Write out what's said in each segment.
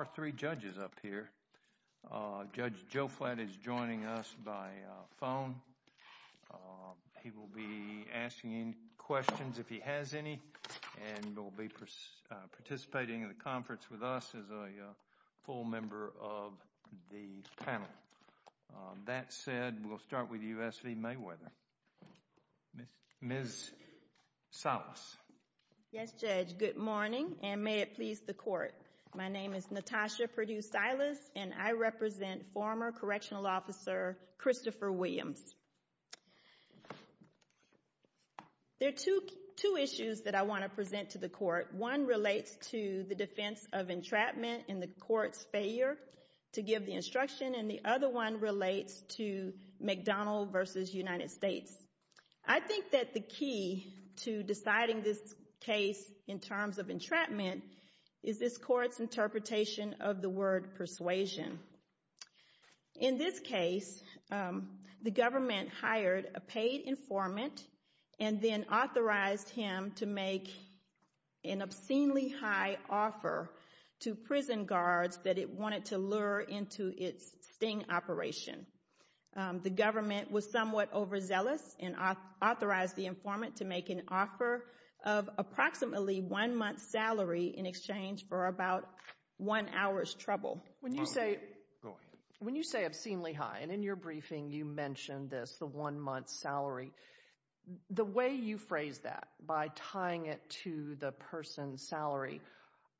Our three judges up here. Judge Joe Flatt is joining us by phone. He will be asking any questions if he has any, and will be participating in the conference with us as a full member of the panel. That said, we'll start with U.S. v. Mayweather. Ms. Salas. Yes, Judge. Good morning, and may it please the Court. My name is Natasha Purdue-Salas, and I represent former Correctional Officer Christopher Williams. There are two issues that I want to present to the Court. One relates to the defense of entrapment and the Court's failure to give the instruction, and the other one relates to McDonnell v. United States. I think that the key to deciding this case in terms of entrapment is this Court's interpretation of the word persuasion. In this case, the government hired a paid informant and then authorized him to make an obscenely high offer to prison guards that it wanted to lure into its sting operation. The government was somewhat overzealous and authorized the informant to make an offer of approximately one month's salary in exchange for about one hour's trouble. When you say obscenely high, and in your briefing you mentioned this, the one month's salary, the way you phrase that by tying it to the person's salary,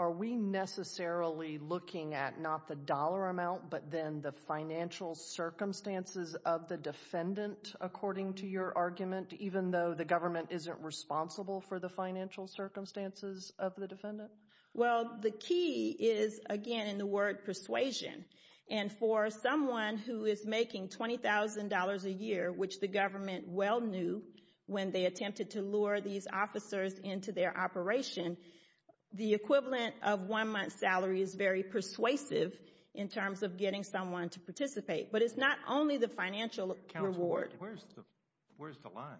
are we necessarily looking at not the dollar amount, but then the financial circumstances of the defendant, according to your argument, even though the government isn't responsible for the financial circumstances of the defendant? Well, the key is, again, in the word persuasion. And for someone who is making $20,000 a year, which the government well knew when they attempted to lure these officers into their operation, the equivalent of one month's salary is very persuasive in terms of getting someone to participate. But it's not only the financial reward. Counsel, where's the line?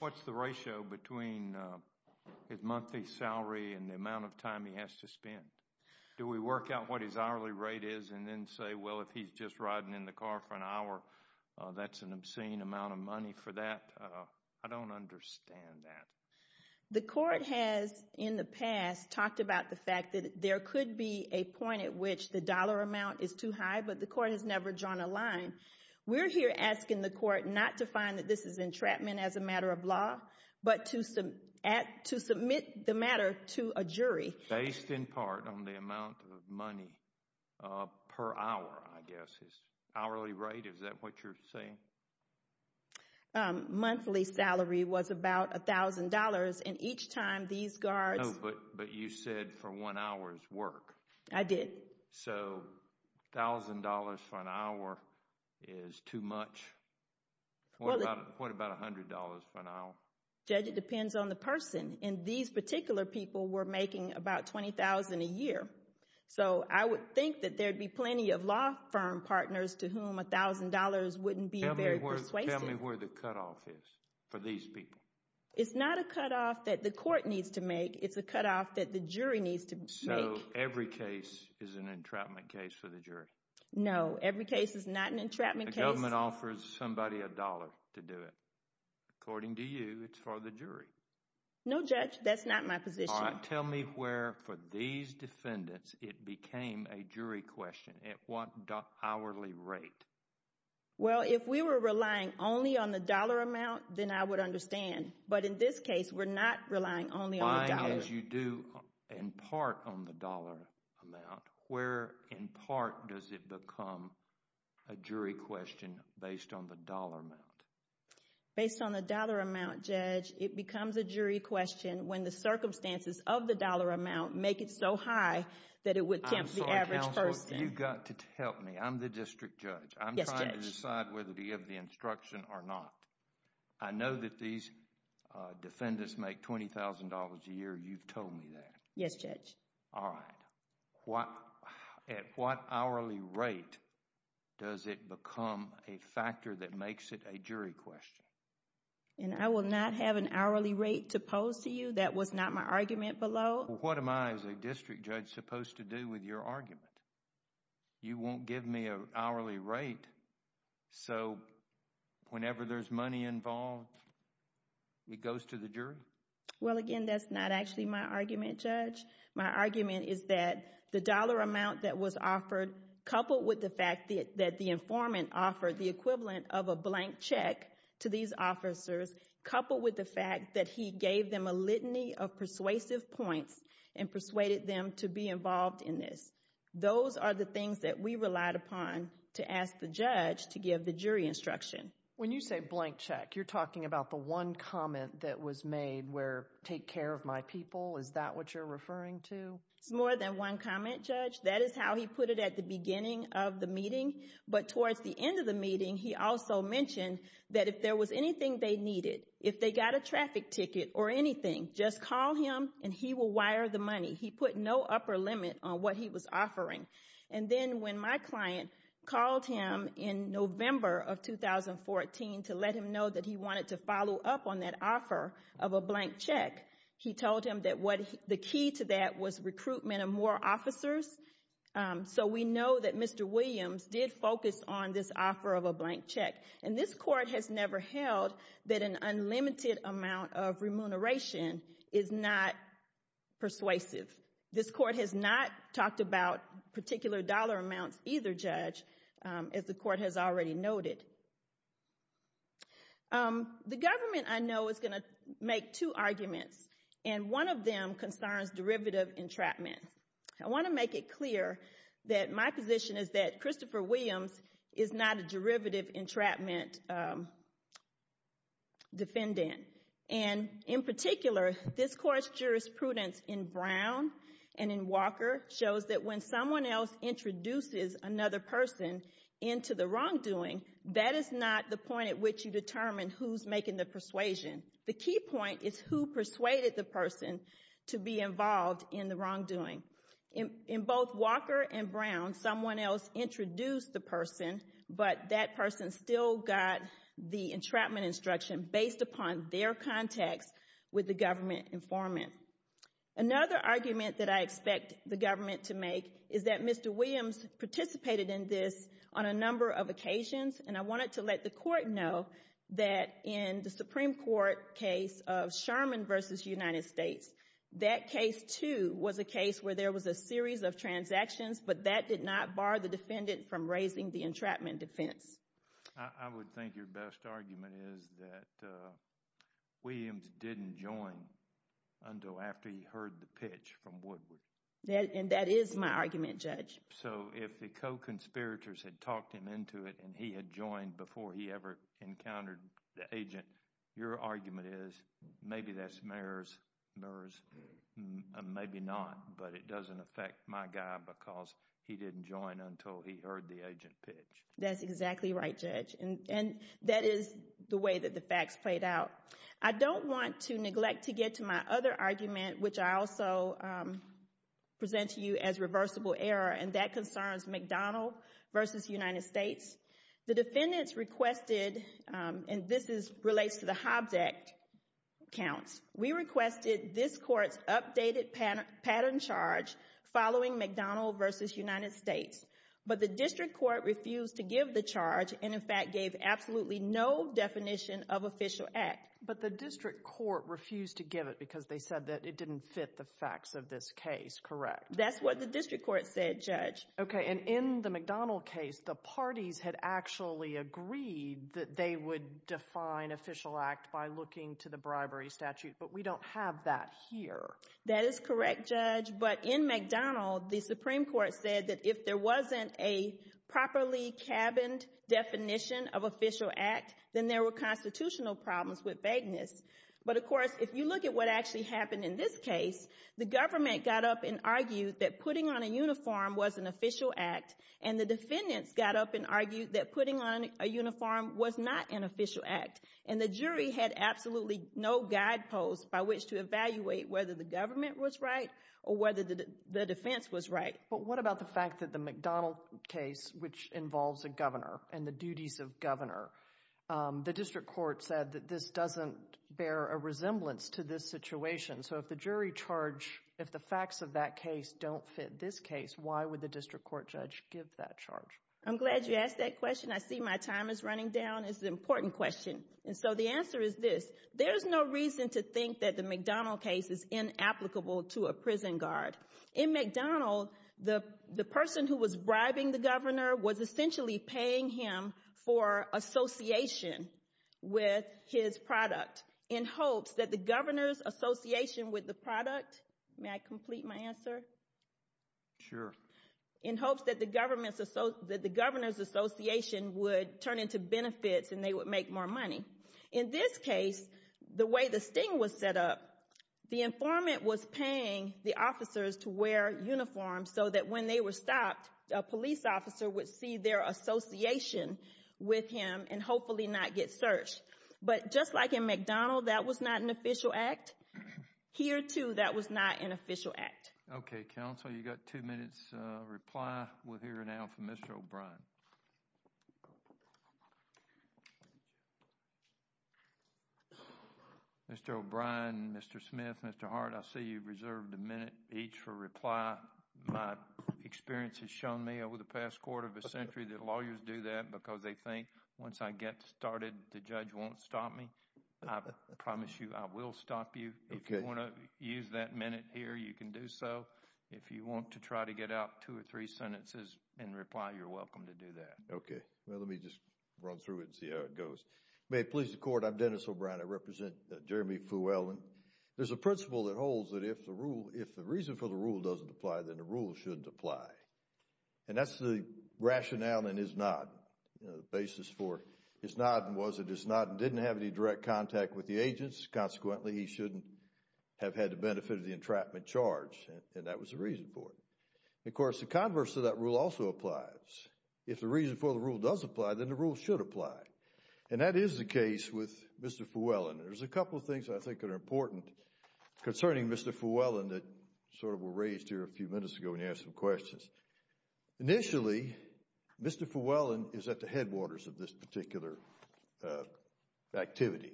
What's the ratio between his monthly salary and the amount of time he has to spend? Do we work out what his hourly rate is and then say, well, if he's just riding in the car for an hour, that's an obscene amount of money for that? I don't understand that. The court has, in the past, talked about the fact that there could be a point at which the dollar amount is too high, but the court has never drawn a line. We're here asking the court not to find that this is entrapment as a matter of law, but to submit the matter to a jury. Based in part on the amount of money per hour, I guess, his hourly rate, is that what you're saying? Monthly salary was about $1,000, and each time these guards... No, but you said for one hour's work. I did. So, $1,000 for an hour is too much. What about $100 for an hour? Judge, it depends on the person, and these particular people were making about $20,000 a year. So, I would think that there'd be plenty of law firm partners to whom $1,000 wouldn't be very persuasive. Tell me where the cutoff is for these people. It's not a cutoff that the court needs to make. It's a cutoff that the jury needs to make. So, every case is an entrapment case for the jury? No, every case is not an entrapment case. The government offers somebody a dollar to do it. According to you, it's for the jury. No, Judge, that's not my position. All right, tell me where, for these defendants, it became a jury question. At what hourly rate? Well, if we were relying only on the dollar amount, then I would understand. But in this case, we're not relying only on the dollar. As you do, in part, on the dollar amount, where, in part, does it become a jury question based on the dollar amount? Based on the dollar amount, Judge, it becomes a jury question when the circumstances of the dollar amount make it so high that it would tempt the average person. I'm sorry, Counselor, you've got to help me. I'm the district judge. I'm trying to decide whether to give the instruction or not. I know that these defendants make $20,000 a year. You've told me that. Yes, Judge. All right. At what hourly rate does it become a factor that makes it a jury question? I will not have an hourly rate to pose to you. That was not my argument below. What am I, as a district judge, supposed to do with your argument? You won't give me an hourly rate, so whenever there's money involved, it goes to the jury? Well, again, that's not actually my argument, Judge. My argument is that the dollar amount that was offered, coupled with the fact that the informant offered the equivalent of a blank check to these officers, coupled with the fact that he gave them a litany of persuasive points and persuaded them to be involved in this, those are the things that we relied upon to ask the judge to give the jury instruction. When you say blank check, you're talking about the one comment that was made where, take care of my people, is that what you're referring to? It's more than one comment, Judge. That is how he put it at the beginning of the meeting. But towards the end of the meeting, he also mentioned that if there was anything they needed, if they got a traffic ticket or anything, just call him and he will wire the money. He put no upper limit on what he was offering. And then when my client called him in November of 2014 to let him know that he wanted to follow up on that offer of a blank check, he told him that the key to that was recruitment of more officers. So we know that Mr. Williams did focus on this offer of a blank check. And this court has never held that an unlimited amount of remuneration is not persuasive. This court has not talked about particular dollar amounts either, Judge, as the court has already noted. The government, I know, is going to make two arguments, and one of them concerns derivative entrapment. I want to make it clear that my position is that Christopher Williams is not a derivative entrapment defendant. And in particular, this court's jurisprudence in Brown and in Walker shows that when someone else introduces another person into the wrongdoing, that is not the point at which you determine who's making the persuasion. The key point is who persuaded the person to be involved in the wrongdoing. In both Walker and Brown, someone else introduced the person, but that person still got the entrapment instruction based upon their contacts with the government informant. Another argument that I expect the government to make is that Mr. Williams participated in this on a number of occasions, and I wanted to let the court know that in the Supreme Court case of Sherman v. United States, that case, too, was a case where there was a series of transactions, but that did not bar the defendant from raising the entrapment defense. I would think your best argument is that Williams didn't join until after he heard the pitch from Woodward. And that is my argument, Judge. So if the co-conspirators had talked him into it and he had joined before he ever encountered the agent, your argument is, maybe that's mirrors, maybe not, but it doesn't affect my guy because he didn't join until he heard the agent pitch. That's exactly right, Judge, and that is the way that the facts played out. I don't want to neglect to get to my other argument, which I also present to you as reversible error, and that concerns McDonald v. United States. The defendants requested, and this relates to the Hobbs Act counts, we requested this court's updated pattern charge following McDonald v. United States, but the district court refused to give the charge and, in fact, gave absolutely no definition of official act. But the district court refused to give it because they said that it didn't fit the facts of this case, correct? Okay, and in the McDonald case, the parties had actually agreed that they would define official act by looking to the bribery statute, but we don't have that here. That is correct, Judge, but in McDonald, the Supreme Court said that if there wasn't a properly cabined definition of official act, then there were constitutional problems with vagueness. But, of course, if you look at what actually happened in this case, the government got up and argued that putting on a uniform was an official act, and the defendants got up and argued that putting on a uniform was not an official act, and the jury had absolutely no guideposts by which to evaluate whether the government was right or whether the defense was right. But what about the fact that the McDonald case, which involves a governor and the duties of governor, the district court said that this doesn't bear a resemblance to this situation. So if the jury charge, if the facts of that case don't fit this case, why would the district court judge give that charge? I'm glad you asked that question. I see my time is running down. It's an important question, and so the answer is this. There's no reason to think that the McDonald case is inapplicable to a prison guard. In McDonald, the person who was bribing the governor was essentially paying him for association with his product in hopes that the governor's association with the product, may I complete my answer? Sure. In hopes that the governor's association would turn into benefits and they would make more money. In this case, the way the sting was set up, the informant was paying the officers to wear uniforms so that when they were stopped, a police officer would see their association with him and hopefully not get searched. But just like in McDonald, that was not an official act, here too that was not an official act. Okay, counsel, you've got two minutes reply. We'll hear now from Mr. O'Brien. Mr. O'Brien, Mr. Smith, Mr. Hart, I see you've reserved a minute each for reply. My experience has shown me over the past quarter of a century that lawyers do that because they think once I get started, the judge won't stop me. I promise you I will stop you. If you want to use that minute here, you can do so. If you want to try to get out two or three sentences in reply, you're welcome to do that. Okay. Well, let me just run through it and see how it goes. May it please the court, I'm Dennis O'Brien. I represent Jeremy Fuelman. There's a principle that holds that if the reason for the rule doesn't apply, then the rule shouldn't apply. And that's the rationale in his nod. The basis for his nod was that his nod didn't have any direct contact with the agents, consequently he shouldn't have had the benefit of the entrapment charge. And that was the reason for it. Of course, the converse to that rule also applies. If the reason for the rule does apply, then the rule should apply. And that is the case with Mr. Fuellman. There's a couple of things I think that are important concerning Mr. Fuellman that sort of were raised here a few minutes ago when you asked some questions. Initially, Mr. Fuellman is at the headwaters of this particular activity.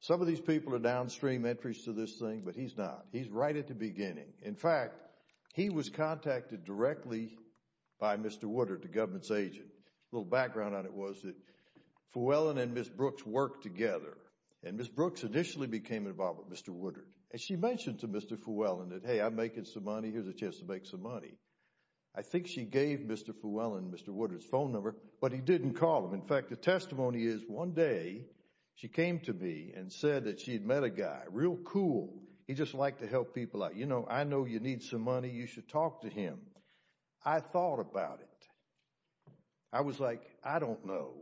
Some of these people are downstream entries to this thing, but he's not. He's right at the beginning. In fact, he was contacted directly by Mr. Woodard, the government's agent. A little background on it was that Fuellman and Ms. Brooks worked together, and Ms. Brooks initially became involved with Mr. Woodard. And she mentioned to Mr. Fuellman that, hey, I'm making some money. Here's a chance to make some money. I think she gave Mr. Fuellman Mr. Woodard's phone number, but he didn't call him. In fact, the testimony is one day she came to me and said that she had met a guy, real cool. He just liked to help people out. You know, I know you need some money. You should talk to him. I thought about it. I was like, I don't know.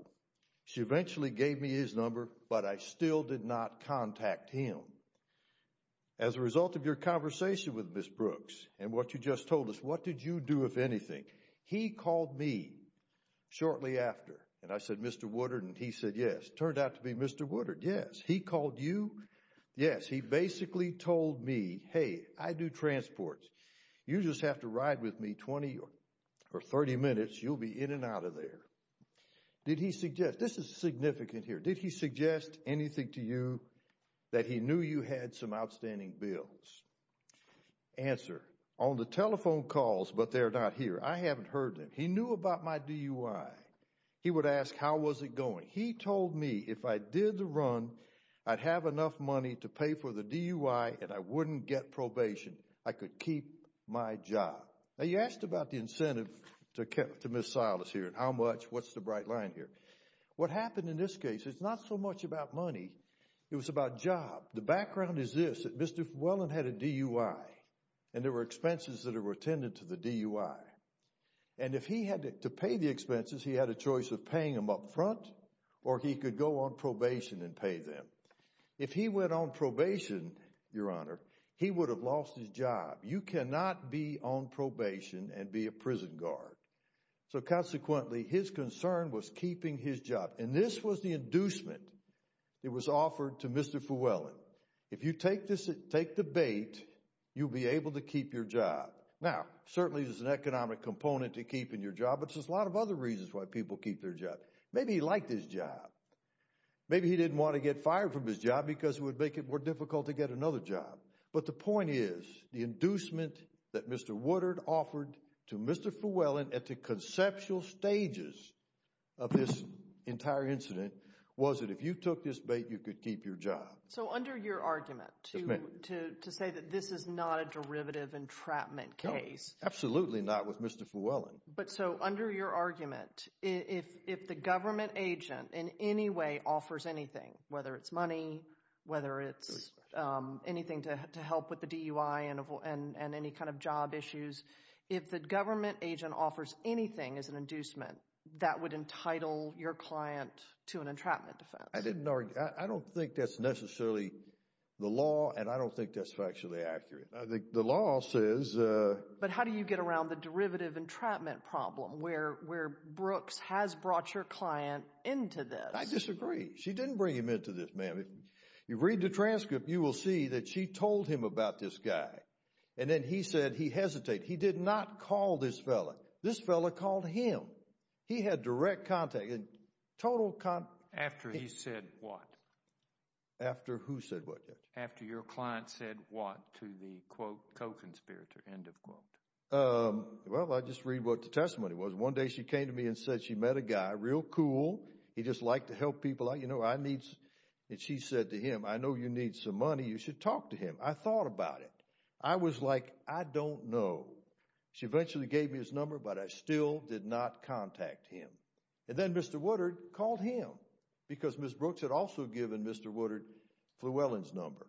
She eventually gave me his number, but I still did not contact him. As a result of your conversation with Ms. Brooks and what you just told us, what did you do, if anything? He called me shortly after, and I said, Mr. Woodard, and he said yes. Turned out to be Mr. Woodard, yes. He called you? Yes. He basically told me, hey, I do transport. You just have to ride with me 20 or 30 minutes. You'll be in and out of there. Did he suggest, this is significant here, did he suggest anything to you that he knew you had some outstanding bills? Answer, on the telephone calls, but they're not here. I haven't heard them. He knew about my DUI. He would ask how was it going. He told me if I did the run, I'd have enough money to pay for the DUI and I wouldn't get probation. I could keep my job. Now, you asked about the incentive to Ms. Silas here and how much, what's the bright line here. What happened in this case, it's not so much about money. It was about job. The background is this, that Mr. Whelan had a DUI, and there were expenses that were attended to the DUI. And if he had to pay the expenses, he had a choice of paying them up front or he could go on probation and pay them. If he went on probation, Your Honor, he would have lost his job. You cannot be on probation and be a prison guard. So, consequently, his concern was keeping his job. And this was the inducement that was offered to Mr. Whelan. If you take the bait, you'll be able to keep your job. Now, certainly there's an economic component to keeping your job, but there's a lot of other reasons why people keep their job. Maybe he liked his job. Maybe he didn't want to get fired from his job because it would make it more difficult to get another job. But the point is the inducement that Mr. Woodard offered to Mr. Whelan at the conceptual stages of this entire incident was that if you took this bait, you could keep your job. So under your argument to say that this is not a derivative entrapment case. No, absolutely not with Mr. Whelan. But so under your argument, if the government agent in any way offers anything, whether it's money, whether it's anything to help with the DUI and any kind of job issues, if the government agent offers anything as an inducement, that would entitle your client to an entrapment defense. I don't think that's necessarily the law, and I don't think that's factually accurate. I think the law says— But how do you get around the derivative entrapment problem where Brooks has brought your client into this? I disagree. She didn't bring him into this, ma'am. If you read the transcript, you will see that she told him about this guy. And then he said he hesitated. He did not call this fellow. This fellow called him. He had direct contact. After he said what? After who said what, Judge? After your client said what to the, quote, co-conspirator, end of quote. Well, I'll just read what the testimony was. One day she came to me and said she met a guy, real cool. He just liked to help people out. You know, I need—and she said to him, I know you need some money. You should talk to him. I thought about it. I was like, I don't know. She eventually gave me his number, but I still did not contact him. And then Mr. Woodard called him, because Ms. Brooks had also given Mr. Woodard Flewellen's number,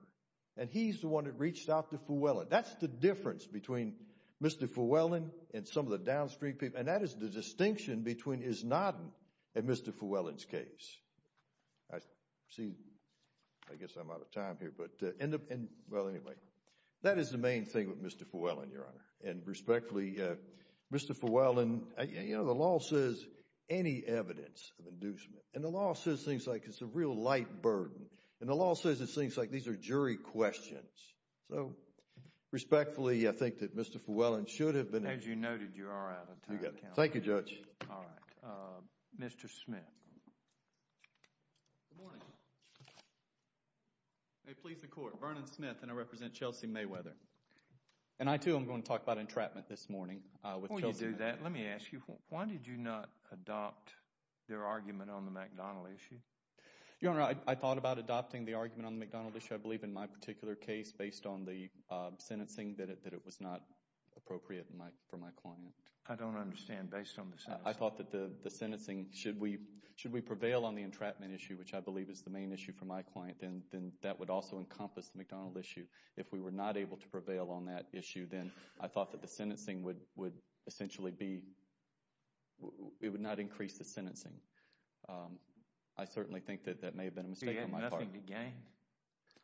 and he's the one that reached out to Flewellen. That's the difference between Mr. Flewellen and some of the downstream people, and that is the distinction between Isnodden and Mr. Flewellen's case. See, I guess I'm out of time here. But, well, anyway, that is the main thing with Mr. Flewellen, Your Honor. And respectfully, Mr. Flewellen, you know, the law says any evidence of inducement, and the law says things like it's a real light burden, and the law says it's things like these are jury questions. So respectfully, I think that Mr. Flewellen should have been— As you noted, you are out of time. Thank you, Judge. All right. Mr. Smith. Good morning. May it please the Court. Vernon Smith, and I represent Chelsea Mayweather. And I, too, am going to talk about entrapment this morning with Chelsea. Before we do that, let me ask you, why did you not adopt their argument on the McDonald issue? Your Honor, I thought about adopting the argument on the McDonald issue, I believe, in my particular case based on the sentencing that it was not appropriate for my client. I don't understand. Based on the sentencing? I thought that the sentencing, should we prevail on the entrapment issue, which I believe is the main issue for my client, then that would also encompass the McDonald issue. If we were not able to prevail on that issue, then I thought that the sentencing would essentially be—it would not increase the sentencing. I certainly think that that may have been a mistake on my part. You had nothing to gain.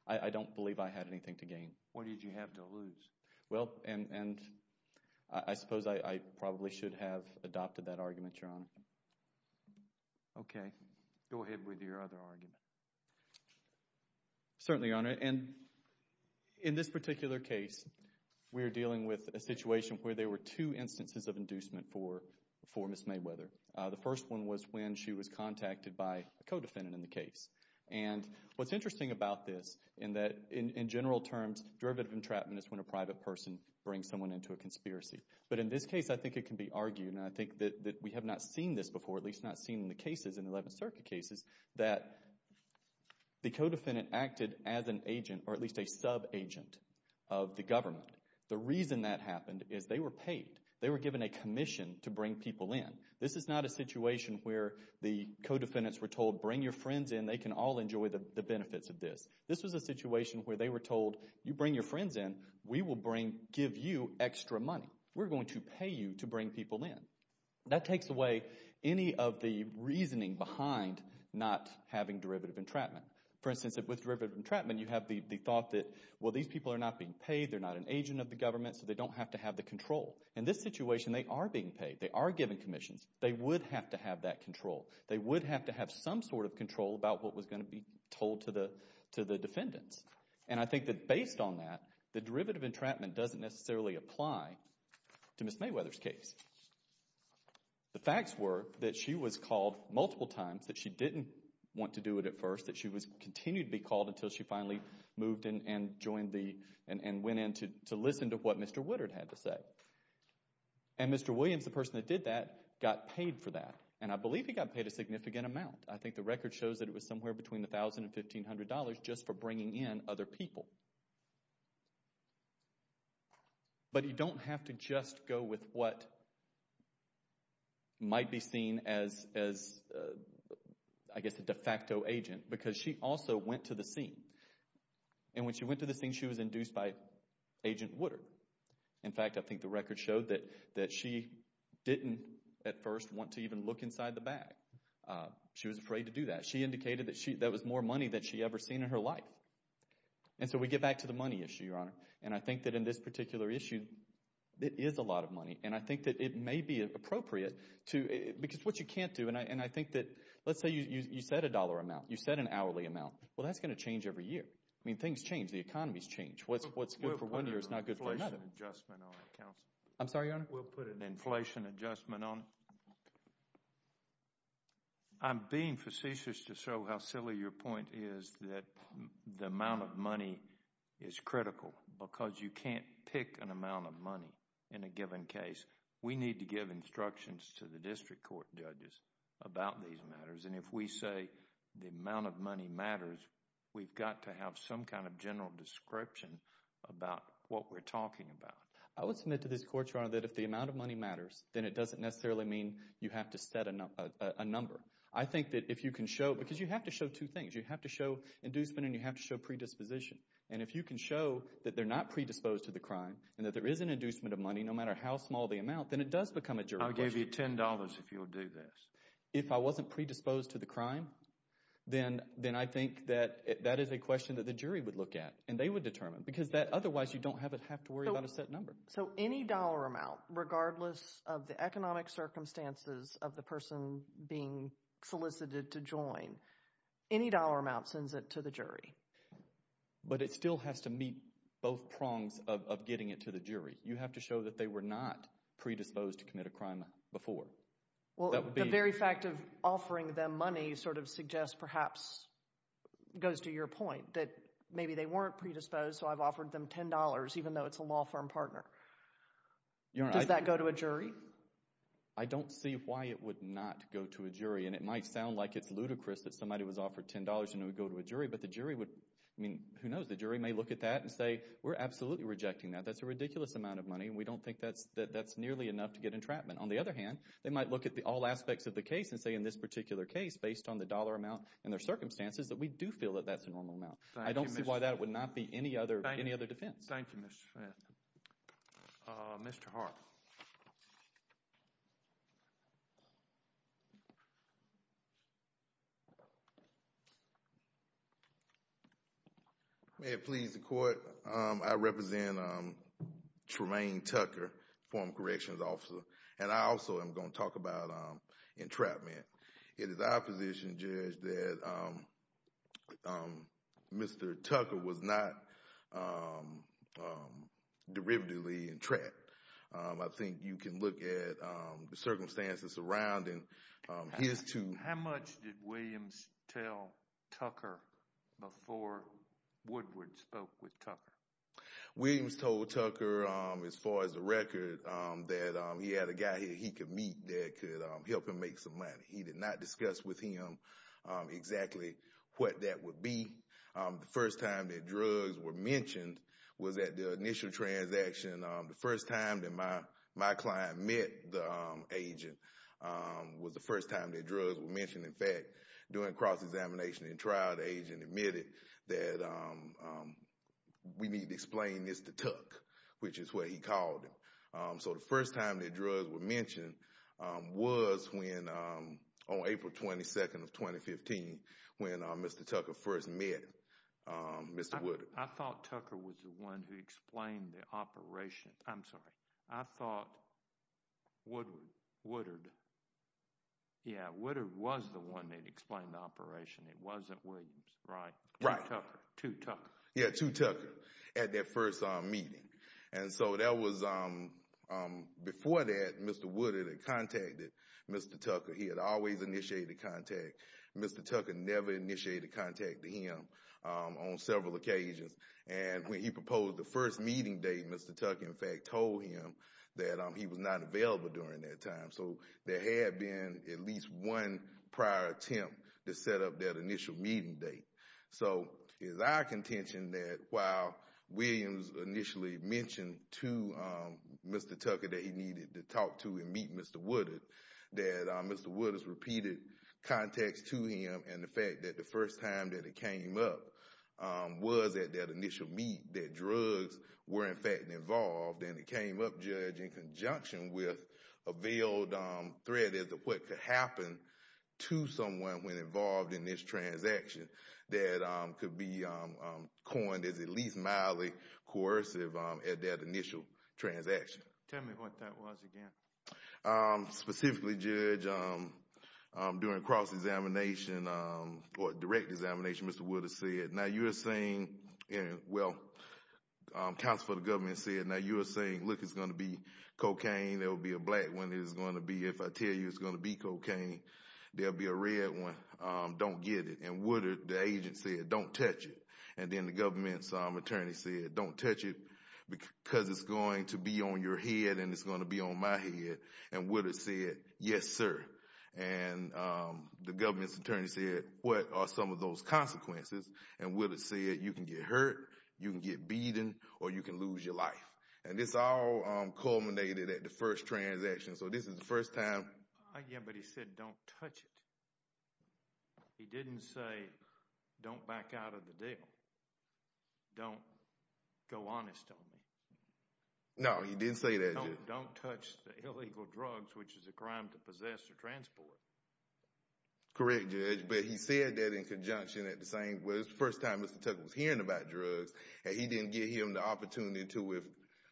I don't believe I had anything to gain. What did you have to lose? Well, and I suppose I probably should have adopted that argument, Your Honor. Okay. Go ahead with your other argument. Certainly, Your Honor. And in this particular case, we are dealing with a situation where there were two instances of inducement for Ms. Mayweather. The first one was when she was contacted by a co-defendant in the case. And what's interesting about this in that, in general terms, derivative entrapment is when a private person brings someone into a conspiracy. But in this case, I think it can be argued, and I think that we have not seen this before, or at least not seen in the cases in the Eleventh Circuit cases, that the co-defendant acted as an agent or at least a sub-agent of the government. The reason that happened is they were paid. They were given a commission to bring people in. This is not a situation where the co-defendants were told, Bring your friends in. They can all enjoy the benefits of this. This was a situation where they were told, You bring your friends in. We will give you extra money. We're going to pay you to bring people in. That takes away any of the reasoning behind not having derivative entrapment. For instance, with derivative entrapment, you have the thought that, Well, these people are not being paid. They're not an agent of the government, so they don't have to have the control. In this situation, they are being paid. They are given commissions. They would have to have that control. They would have to have some sort of control about what was going to be told to the defendants. And I think that based on that, the derivative entrapment doesn't necessarily apply to Ms. Mayweather's case. The facts were that she was called multiple times, that she didn't want to do it at first, that she continued to be called until she finally moved and joined the and went in to listen to what Mr. Woodard had to say. And Mr. Williams, the person that did that, got paid for that. And I believe he got paid a significant amount. I think the record shows that it was somewhere between $1,000 and $1,500 just for bringing in other people. But you don't have to just go with what might be seen as, I guess, a de facto agent, because she also went to the scene. And when she went to the scene, she was induced by Agent Woodard. In fact, I think the record showed that she didn't at first want to even look inside the bag. She was afraid to do that. She indicated that that was more money than she'd ever seen in her life. And so we get back to the money issue, Your Honor. And I think that in this particular issue, it is a lot of money. And I think that it may be appropriate to, because what you can't do, and I think that, let's say you set a dollar amount, you set an hourly amount. Well, that's going to change every year. I mean, things change. The economies change. What's good for one year is not good for another. We'll put an inflation adjustment on it, Counsel. I'm sorry, Your Honor? We'll put an inflation adjustment on it. I'm being facetious to show how silly your point is that the amount of money is critical because you can't pick an amount of money in a given case. We need to give instructions to the district court judges about these matters. And if we say the amount of money matters, we've got to have some kind of general description about what we're talking about. I would submit to this Court, Your Honor, that if the amount of money matters, then it doesn't necessarily mean you have to set a number. I think that if you can show, because you have to show two things. You have to show inducement and you have to show predisposition. And if you can show that they're not predisposed to the crime and that there is an inducement of money no matter how small the amount, then it does become a jury question. I'll give you $10 if you'll do this. If I wasn't predisposed to the crime, then I think that that is a question that the jury would look at, and they would determine because otherwise you don't have to worry about a set number. So any dollar amount, regardless of the economic circumstances of the person being solicited to join, any dollar amount sends it to the jury. But it still has to meet both prongs of getting it to the jury. You have to show that they were not predisposed to commit a crime before. Well, the very fact of offering them money sort of suggests perhaps, goes to your point, that maybe they weren't predisposed, so I've offered them $10 even though it's a law firm partner. Does that go to a jury? I don't see why it would not go to a jury. And it might sound like it's ludicrous that somebody was offered $10 and it would go to a jury, but the jury would, I mean, who knows, the jury may look at that and say, we're absolutely rejecting that. That's a ridiculous amount of money, and we don't think that's nearly enough to get entrapment. On the other hand, they might look at all aspects of the case and say, in this particular case, based on the dollar amount and their circumstances, that we do feel that that's a normal amount. I don't see why that would not be any other defense. Thank you, Mr. Smith. Mr. Hart. May it please the Court, I represent Tremaine Tucker, former corrections officer, and I also am going to talk about entrapment. It is our position, Judge, that Mr. Tucker was not derivatively entrapped. I think you can look at the circumstances surrounding his two— How much did Williams tell Tucker before Woodward spoke with Tucker? Williams told Tucker, as far as the record, that he had a guy he could meet that could help him make some money. He did not discuss with him exactly what that would be. The first time that drugs were mentioned was at the initial transaction. The first time that my client met the agent was the first time that drugs were mentioned. In fact, during cross-examination and trial, the agent admitted that we need to explain this to Tucker, which is what he called him. So the first time that drugs were mentioned was on April 22, 2015, when Mr. Tucker first met Mr. Woodward. I thought Tucker was the one who explained the operation. I'm sorry. I thought Woodward was the one that explained the operation. It wasn't Williams, right? Right. Two Tucker. Yeah, two Tucker at that first meeting. And so that was—before that, Mr. Woodward had contacted Mr. Tucker. He had always initiated contact. Mr. Tucker never initiated contact to him on several occasions. And when he proposed the first meeting date, Mr. Tucker, in fact, told him that he was not available during that time. So there had been at least one prior attempt to set up that initial meeting date. So it's our contention that while Williams initially mentioned to Mr. Tucker that he needed to talk to and meet Mr. Woodward, that Mr. Woodward's repeated contacts to him and the fact that the first time that it came up was at that initial meet, that drugs were, in fact, involved, and it came up, Judge, in conjunction with a veiled threat as to what could happen to someone when involved in this transaction that could be coined as at least mildly coercive at that initial transaction. Tell me what that was again. Specifically, Judge, during cross-examination or direct examination, Mr. Woodward said, now you are saying, well, counsel for the government said, now you are saying, look, it's going to be cocaine. There will be a black one. It is going to be, if I tell you it's going to be cocaine, there will be a red one. Don't get it. And Woodward, the agent, said, don't touch it. And then the government's attorney said, don't touch it because it's going to be on your head and it's going to be on my head. And Woodward said, yes, sir. And the government's attorney said, what are some of those consequences? And Woodward said, you can get hurt, you can get beaten, or you can lose your life. And this all culminated at the first transaction. So this is the first time. Yeah, but he said, don't touch it. He didn't say, don't back out of the deal. Don't go honest on me. No, he didn't say that, Judge. He said, don't touch the illegal drugs, which is a crime to possess or transport. Correct, Judge. But he said that in conjunction with the first time Mr. Tucker was hearing about drugs. And he didn't give him the opportunity to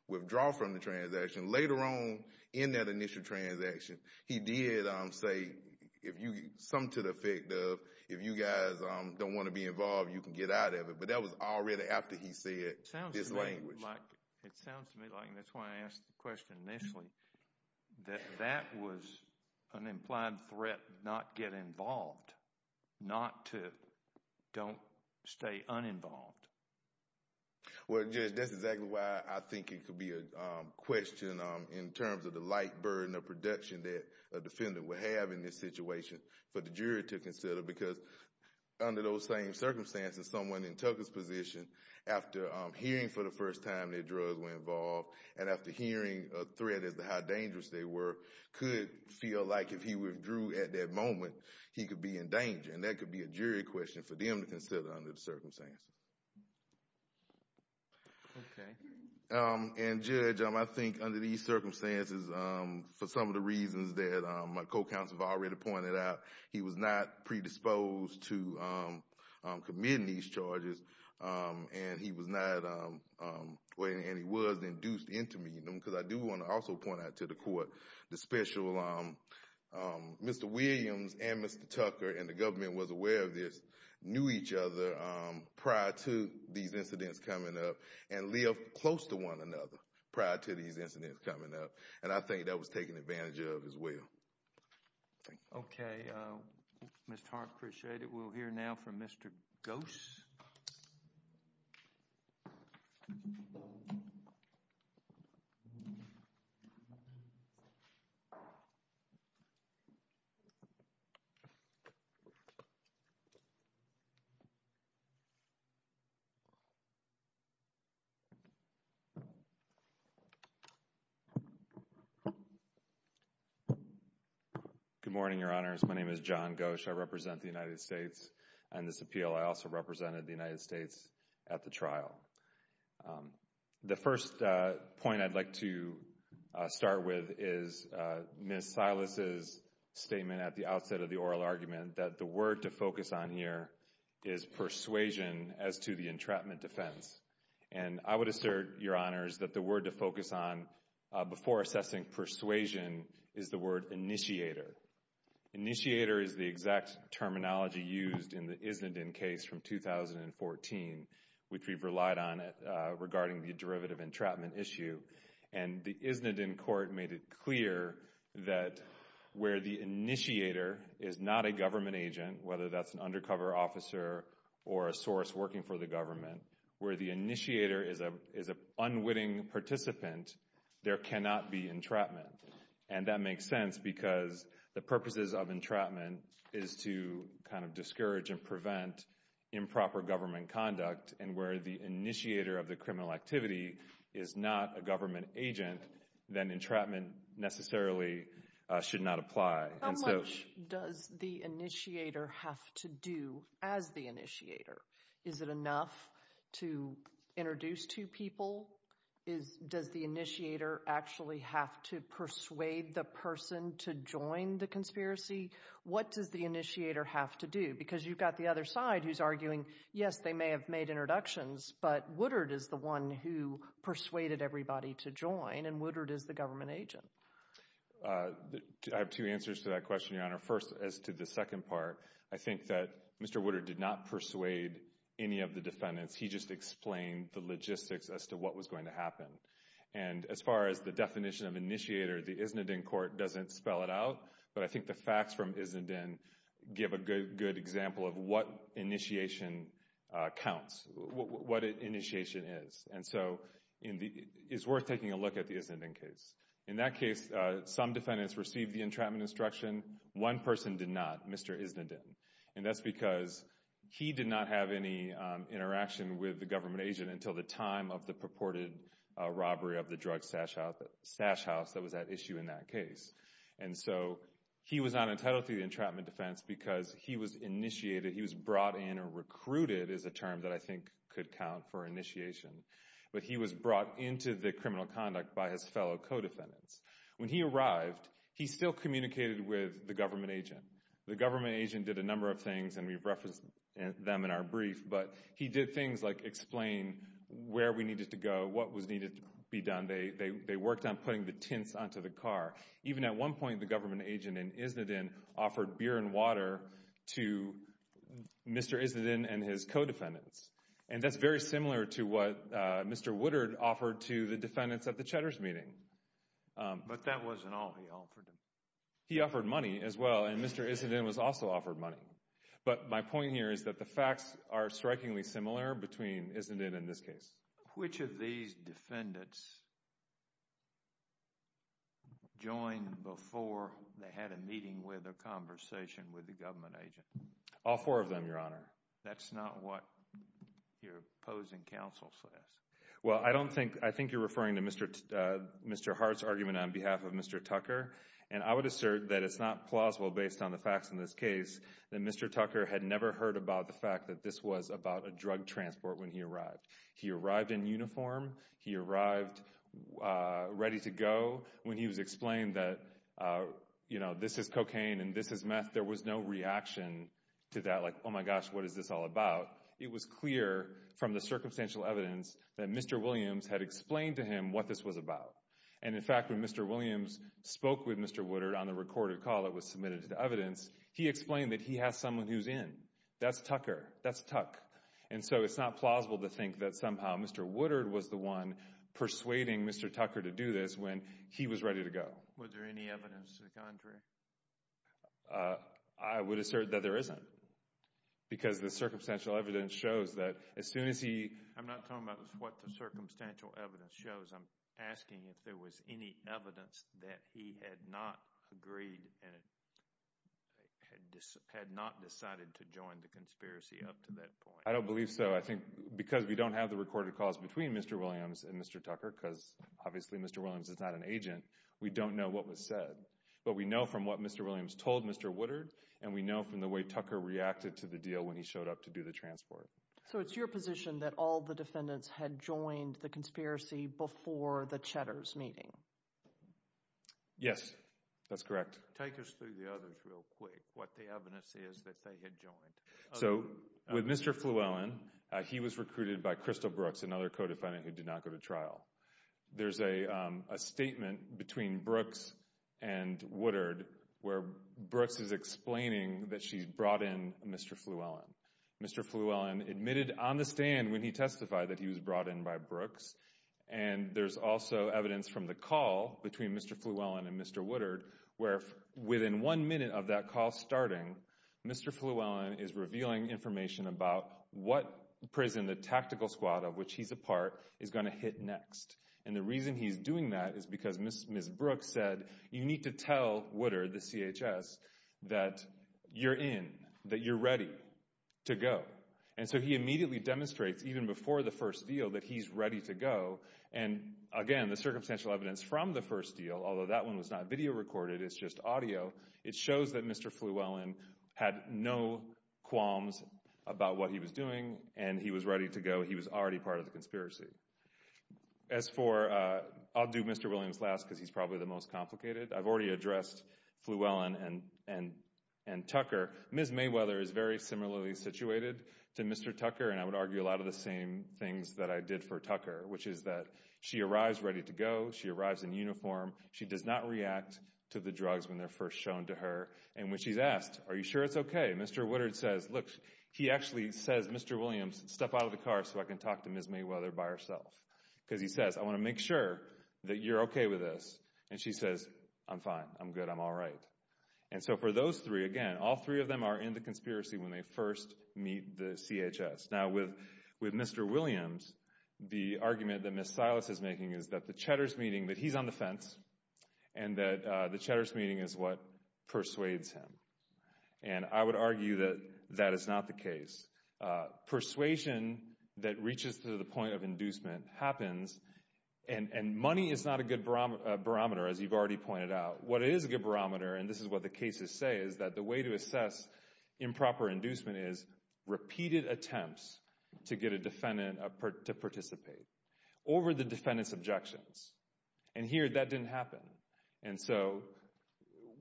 withdraw from the transaction. Later on in that initial transaction, he did say, if you, some to the effect of, if you guys don't want to be involved, you can get out of it. But that was already after he said this language. It sounds to me like, and that's why I asked the question initially, that that was an implied threat, not get involved. Not to, don't stay uninvolved. Well, Judge, that's exactly why I think it could be a question in terms of the light burden of production that a defendant would have in this situation for the jury to consider. Because under those same circumstances, someone in Tucker's position, after hearing for the first time that drugs were involved, and after hearing a threat as to how dangerous they were, could feel like if he withdrew at that moment, he could be in danger. And that could be a jury question for them to consider under the circumstances. Okay. And Judge, I think under these circumstances, for some of the reasons that my co-counsel has already pointed out, he was not predisposed to committing these charges, and he was not, and he was induced into meeting them. Because I do want to also point out to the court, the special, Mr. Williams and Mr. Tucker, and the government was aware of this, knew each other prior to these incidents coming up, and lived close to one another prior to these incidents coming up. And I think that was taken advantage of as well. Okay. Mr. Hart, appreciate it. We'll hear now from Mr. Gose. Good morning, Your Honors. My name is John Gose. I represent the United States on this appeal. I also represented the United States at the trial. The first point I'd like to start with is Ms. Silas' statement at the outset of the oral argument that the word to focus on here is persuasion as to the entrapment defense. And I would assert, Your Honors, that the word to focus on before assessing persuasion is the word initiator. Initiator is the exact terminology used in the Isnedin case from 2014, which we've relied on regarding the derivative entrapment issue. And the Isnedin court made it clear that where the initiator is not a government agent, whether that's an undercover officer or a source working for the government, where the initiator is an unwitting participant, there cannot be entrapment. And that makes sense because the purposes of entrapment is to kind of discourage and prevent improper government conduct. And where the initiator of the criminal activity is not a government agent, then entrapment necessarily should not apply. How much does the initiator have to do as the initiator? Is it enough to introduce two people? Does the initiator actually have to persuade the person to join the conspiracy? What does the initiator have to do? Because you've got the other side who's arguing, yes, they may have made introductions, but Woodard is the one who persuaded everybody to join, and Woodard is the government agent. I have two answers to that question, Your Honor. First, as to the second part, I think that Mr. Woodard did not persuade any of the defendants. He just explained the logistics as to what was going to happen. And as far as the definition of initiator, the Isnedin court doesn't spell it out, but I think the facts from Isnedin give a good example of what initiation counts, what initiation is. And so it's worth taking a look at the Isnedin case. In that case, some defendants received the entrapment instruction. One person did not, Mr. Isnedin. And that's because he did not have any interaction with the government agent until the time of the purported robbery of the drug sash house that was at issue in that case. And so he was not entitled to the entrapment defense because he was initiated, he was brought in or recruited is a term that I think could count for initiation, but he was brought into the criminal conduct by his fellow co-defendants. When he arrived, he still communicated with the government agent. The government agent did a number of things, and we've referenced them in our brief, but he did things like explain where we needed to go, what needed to be done. They worked on putting the tints onto the car. Even at one point, the government agent in Isnedin offered beer and water to Mr. Isnedin and his co-defendants. And that's very similar to what Mr. Woodard offered to the defendants at the Cheddar's meeting. But that wasn't all he offered them. He offered money as well, and Mr. Isnedin was also offered money. But my point here is that the facts are strikingly similar between Isnedin and this case. Which of these defendants joined before they had a meeting with or conversation with the government agent? All four of them, Your Honor. That's not what your opposing counsel says. Well, I think you're referring to Mr. Hart's argument on behalf of Mr. Tucker. And I would assert that it's not plausible, based on the facts in this case, that Mr. Tucker had never heard about the fact that this was about a drug transport when he arrived. He arrived in uniform. He arrived ready to go. When he was explained that this is cocaine and this is meth, there was no reaction to that. Like, oh my gosh, what is this all about? It was clear from the circumstantial evidence that Mr. Williams had explained to him what this was about. And, in fact, when Mr. Williams spoke with Mr. Woodard on the recorded call that was submitted to the evidence, he explained that he has someone who's in. That's Tucker. That's Tuck. And so it's not plausible to think that somehow Mr. Woodard was the one persuading Mr. Tucker to do this when he was ready to go. Was there any evidence to the contrary? I would assert that there isn't, because the circumstantial evidence shows that as soon as he— I'm not talking about what the circumstantial evidence shows. I'm asking if there was any evidence that he had not agreed and had not decided to join the conspiracy up to that point. I don't believe so. I think because we don't have the recorded calls between Mr. Williams and Mr. Tucker, because obviously Mr. Williams is not an agent, we don't know what was said. But we know from what Mr. Williams told Mr. Woodard, and we know from the way Tucker reacted to the deal when he showed up to do the transport. So it's your position that all the defendants had joined the conspiracy before the Cheddar's meeting? Yes, that's correct. Take us through the others real quick, what the evidence is that they had joined. So with Mr. Flewellen, he was recruited by Crystal Brooks, another co-defendant who did not go to trial. There's a statement between Brooks and Woodard where Brooks is explaining that she brought in Mr. Flewellen. Mr. Flewellen admitted on the stand when he testified that he was brought in by Brooks. And there's also evidence from the call between Mr. Flewellen and Mr. Woodard, where within one minute of that call starting, Mr. Flewellen is revealing information about what prison the tactical squad of which he's a part is going to hit next. And the reason he's doing that is because Ms. Brooks said, you need to tell Woodard, the CHS, that you're in, that you're ready to go. And so he immediately demonstrates, even before the first deal, that he's ready to go. And again, the circumstantial evidence from the first deal, although that one was not video recorded, it's just audio, it shows that Mr. Flewellen had no qualms about what he was doing and he was ready to go. He was already part of the conspiracy. As for, I'll do Mr. Williams last because he's probably the most complicated, I've already addressed Flewellen and Tucker. Ms. Mayweather is very similarly situated to Mr. Tucker, and I would argue a lot of the same things that I did for Tucker, which is that she arrives ready to go, she arrives in uniform, she does not react to the drugs when they're first shown to her, and when she's asked, are you sure it's okay, Mr. Woodard says, look, he actually says, Mr. Williams, step out of the car so I can talk to Ms. Mayweather by herself. Because he says, I want to make sure that you're okay with this. And she says, I'm fine, I'm good, I'm all right. And so for those three, again, all three of them are in the conspiracy when they first meet the CHS. Now with Mr. Williams, the argument that Ms. Silas is making is that the Cheddar's meeting, that he's on the fence, and that the Cheddar's meeting is what persuades him. And I would argue that that is not the case. Persuasion that reaches to the point of inducement happens, and money is not a good barometer, as you've already pointed out. What is a good barometer, and this is what the cases say, is that the way to assess improper inducement is repeated attempts to get a defendant to participate over the defendant's objections. And here that didn't happen. And so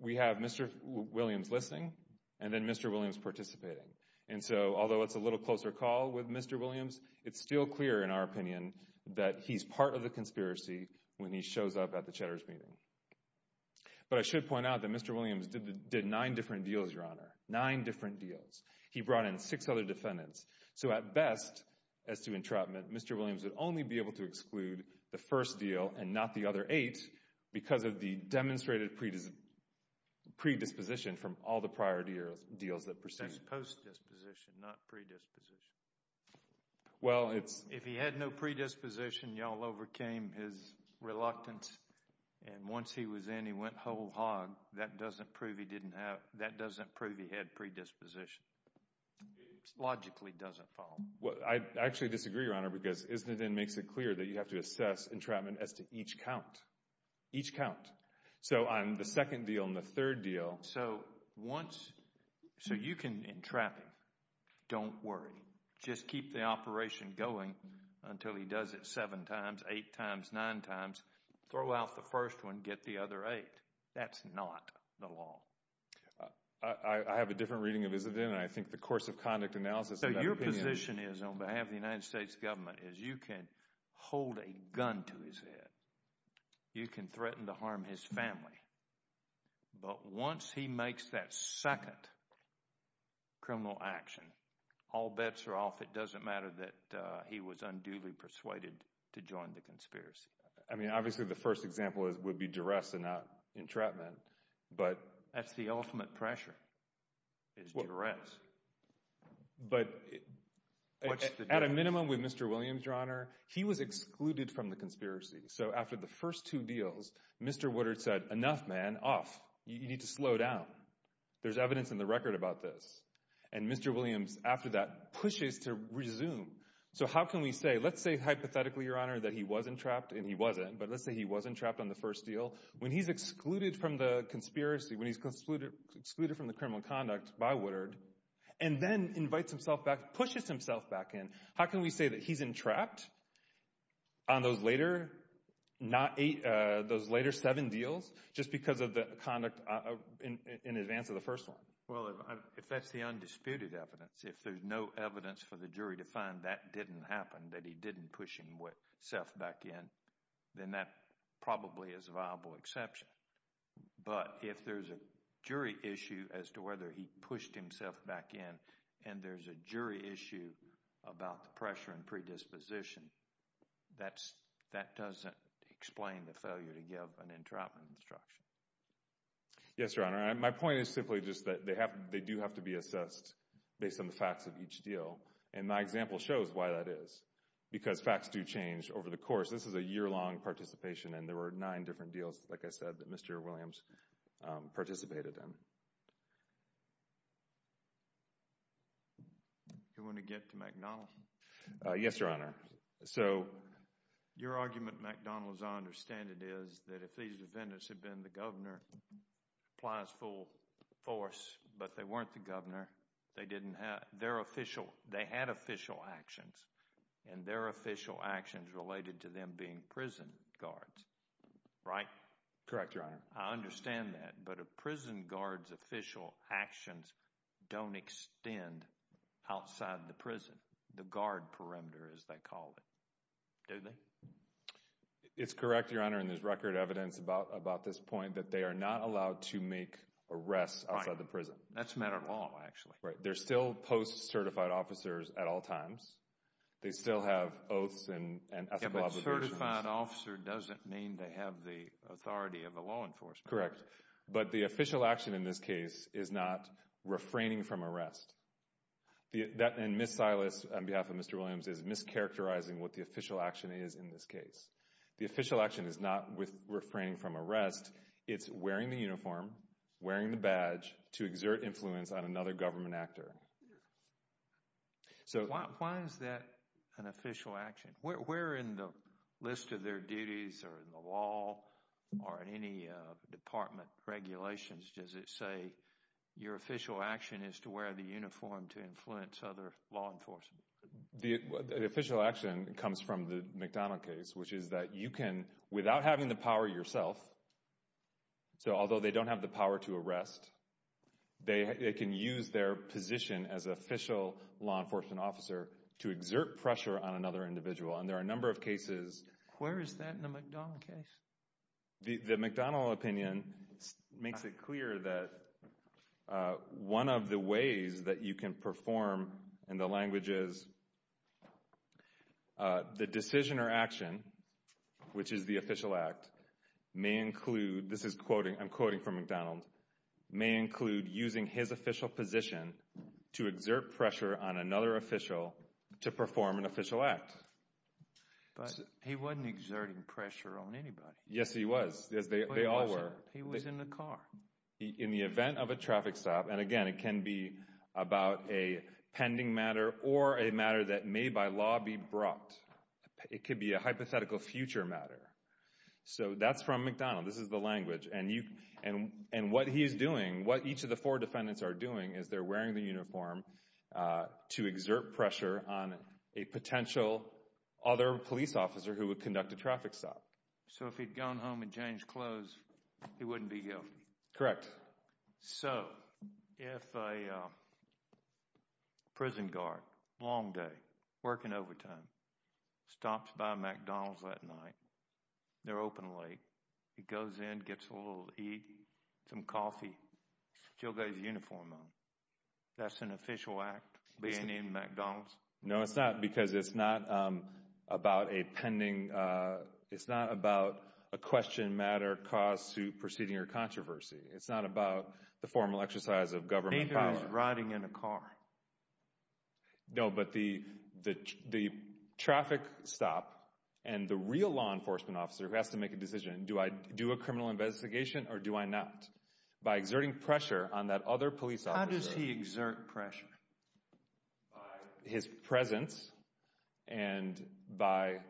we have Mr. Williams listening, and then Mr. Williams participating. And so although it's a little closer call with Mr. Williams, it's still clear in our opinion that he's part of the conspiracy when he shows up at the Cheddar's meeting. But I should point out that Mr. Williams did nine different deals, Your Honor, nine different deals. He brought in six other defendants. So at best, as to entrapment, Mr. Williams would only be able to exclude the first deal and not the other eight because of the demonstrated predisposition from all the prior deals that preceded. That's post-disposition, not predisposition. Well, it's— If he had no predisposition, y'all overcame his reluctance. And once he was in, he went whole hog. That doesn't prove he didn't have—that doesn't prove he had predisposition. It logically doesn't fall. Well, I actually disagree, Your Honor, because isn't it then makes it clear that you have to assess entrapment as to each count. Each count. So on the second deal and the third deal— So once—so you can entrap him. Don't worry. Just keep the operation going until he does it seven times, eight times, nine times. Throw out the first one. Get the other eight. That's not the law. I have a different reading of his agenda. I think the course of conduct analysis— So your position is, on behalf of the United States government, is you can hold a gun to his head. You can threaten to harm his family. But once he makes that second criminal action, all bets are off. It doesn't matter that he was unduly persuaded to join the conspiracy. I mean, obviously, the first example would be duress and not entrapment, but— That's the ultimate pressure is duress. But at a minimum, with Mr. Williams, Your Honor, he was excluded from the conspiracy. So after the first two deals, Mr. Woodard said, Enough, man. Off. You need to slow down. There's evidence in the record about this. And Mr. Williams, after that, pushes to resume. So how can we say—let's say hypothetically, Your Honor, that he was entrapped, and he wasn't. But let's say he was entrapped on the first deal. When he's excluded from the conspiracy, when he's excluded from the criminal conduct by Woodard, and then invites himself back, pushes himself back in, how can we say that he's entrapped on those later seven deals just because of the conduct in advance of the first one? Well, if that's the undisputed evidence, if there's no evidence for the jury to find that didn't happen, that he didn't push himself back in, then that probably is a viable exception. But if there's a jury issue as to whether he pushed himself back in, and there's a jury issue about the pressure and predisposition, that doesn't explain the failure to give an entrapment instruction. Yes, Your Honor. My point is simply just that they do have to be assessed based on the facts of each deal. And my example shows why that is, because facts do change over the course. This is a year-long participation, and there were nine different deals, like I said, that Mr. Williams participated in. Do you want to get to McDonnell? Yes, Your Honor. So your argument, McDonnell, as I understand it, is that if these defendants had been the governor, applies full force, but they weren't the governor, they didn't have—they're official. They had official actions, and their official actions related to them being prison guards, right? Correct, Your Honor. I understand that, but a prison guard's official actions don't extend outside the prison, the guard perimeter, as they call it. Do they? It's correct, Your Honor, and there's record evidence about this point, that they are not allowed to make arrests outside the prison. Right. That's a matter of law, actually. Right. They're still post-certified officers at all times. They still have oaths and ethical obligations. Yeah, but certified officer doesn't mean they have the authority of the law enforcement. Correct. But the official action in this case is not refraining from arrest. And Ms. Silas, on behalf of Mr. Williams, is mischaracterizing what the official action is in this case. The official action is not with refraining from arrest. It's wearing the uniform, wearing the badge to exert influence on another government actor. Why is that an official action? Where in the list of their duties or in the law or in any department regulations does it say your official action is to wear the uniform to influence other law enforcement? The official action comes from the McDonnell case, which is that you can, without having the power yourself, so although they don't have the power to arrest, they can use their position as official law enforcement officer to exert pressure on another individual. And there are a number of cases. Where is that in the McDonnell case? The McDonnell opinion makes it clear that one of the ways that you can perform in the language is the decision or action, which is the official act, may include, this is quoting, I'm quoting from McDonnell, may include using his official position to exert pressure on another official to perform an official act. But he wasn't exerting pressure on anybody. Yes, he was. They all were. He was in the car. In the event of a traffic stop, and again, it can be about a pending matter or a matter that may by law be brought. It could be a hypothetical future matter. So that's from McDonnell. This is the language. And what he's doing, what each of the four defendants are doing is they're wearing the uniform to exert pressure on a potential other police officer who would conduct a traffic stop. So if he'd gone home and changed clothes, he wouldn't be guilty. Correct. So if a prison guard, long day, working overtime, stops by McDonald's that night, they're open late. He goes in, gets a little to eat, some coffee, still got his uniform on, that's an official act being in McDonald's? No, it's not because it's not about a pending. It's not about a question, matter, cause, suit, proceeding, or controversy. It's not about the formal exercise of government power. Maybe he was riding in a car. No, but the traffic stop and the real law enforcement officer who has to make a decision, do I do a criminal investigation or do I not? By exerting pressure on that other police officer. How does he exert pressure? By his presence and by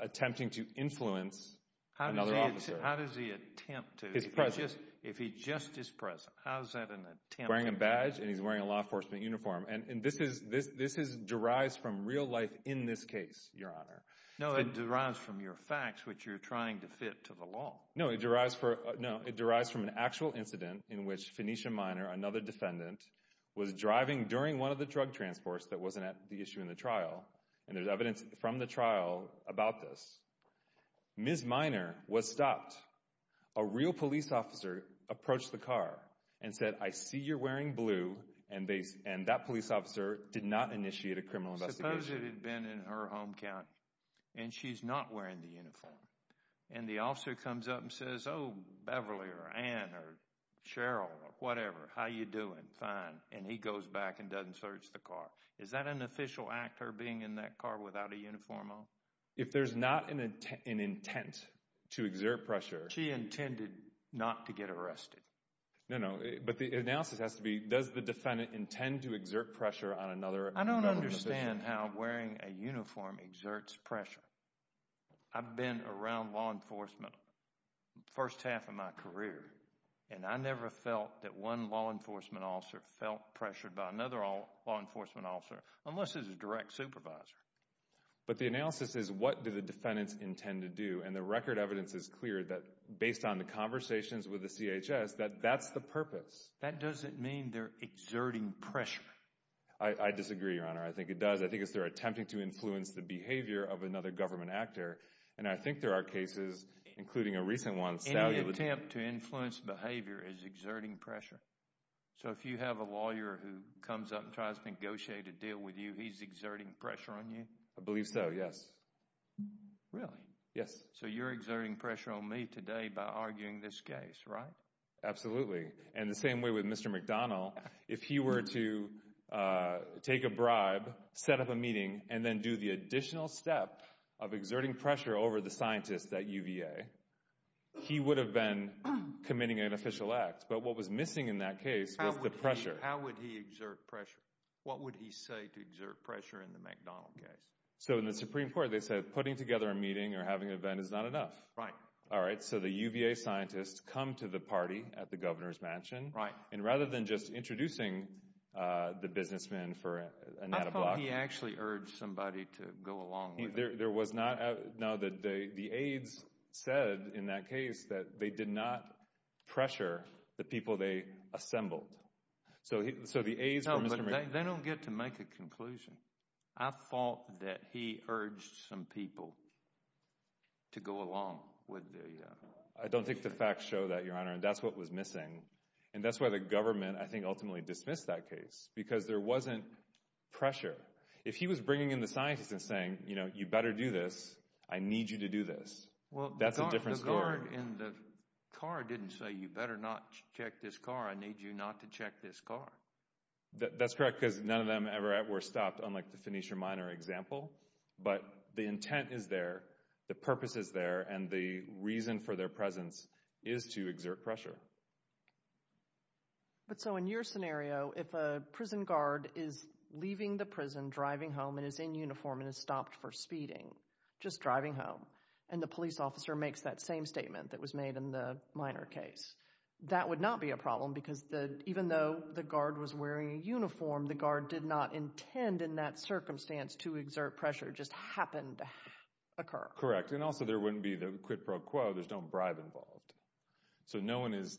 attempting to influence another officer. How does he attempt to? His presence. If he just is present, how is that an attempt? Wearing a badge and he's wearing a law enforcement uniform. And this derives from real life in this case, Your Honor. No, it derives from your facts which you're trying to fit to the law. No, it derives from an actual incident in which Phoenicia Minor, another defendant, was driving during one of the drug transports that wasn't at the issue in the trial. And there's evidence from the trial about this. Ms. Minor was stopped. A real police officer approached the car and said, I see you're wearing blue. And that police officer did not initiate a criminal investigation. Suppose it had been in her home county and she's not wearing the uniform. And the officer comes up and says, oh, Beverly or Ann or Cheryl or whatever, how you doing? Fine. And he goes back and doesn't search the car. Is that an official act, her being in that car without a uniform on? If there's not an intent to exert pressure. She intended not to get arrested. No, no. But the analysis has to be, does the defendant intend to exert pressure on another? I don't understand how wearing a uniform exerts pressure. I've been around law enforcement first half of my career. And I never felt that one law enforcement officer felt pressured by another law enforcement officer, unless it's a direct supervisor. But the analysis is, what do the defendants intend to do? And the record evidence is clear that based on the conversations with the CHS, that that's the purpose. That doesn't mean they're exerting pressure. I disagree, Your Honor. I think it does. I think it's they're attempting to influence the behavior of another government actor. And I think there are cases, including a recent one. Any attempt to influence behavior is exerting pressure. So if you have a lawyer who comes up and tries to negotiate a deal with you, he's exerting pressure on you? I believe so, yes. Really? Yes. So you're exerting pressure on me today by arguing this case, right? Absolutely. And the same way with Mr. McDonnell. If he were to take a bribe, set up a meeting, and then do the additional step of exerting pressure over the scientist at UVA, he would have been committing an official act. But what was missing in that case was the pressure. How would he exert pressure? What would he say to exert pressure in the McDonnell case? So in the Supreme Court, they said putting together a meeting or having an event is not enough. Right. All right, so the UVA scientists come to the party at the governor's mansion. Right. And rather than just introducing the businessman for an ad hoc— I thought he actually urged somebody to go along with it. No, the aides said in that case that they did not pressure the people they assembled. So the aides— No, but they don't get to make a conclusion. I thought that he urged some people to go along with the— I don't think the facts show that, Your Honor, and that's what was missing. And that's why the government, I think, ultimately dismissed that case, because there wasn't pressure. Right. If he was bringing in the scientists and saying, you know, you better do this, I need you to do this, that's a different story. Well, the guard in the car didn't say, you better not check this car, I need you not to check this car. That's correct, because none of them ever were stopped, unlike the Phoenicia Minor example. But the intent is there, the purpose is there, and the reason for their presence is to exert pressure. But so in your scenario, if a prison guard is leaving the prison, driving home, and is in uniform and is stopped for speeding, just driving home, and the police officer makes that same statement that was made in the Minor case, that would not be a problem, because even though the guard was wearing a uniform, the guard did not intend in that circumstance to exert pressure. It just happened to occur. Correct, and also there wouldn't be the quid pro quo. There's no bribe involved. So no one is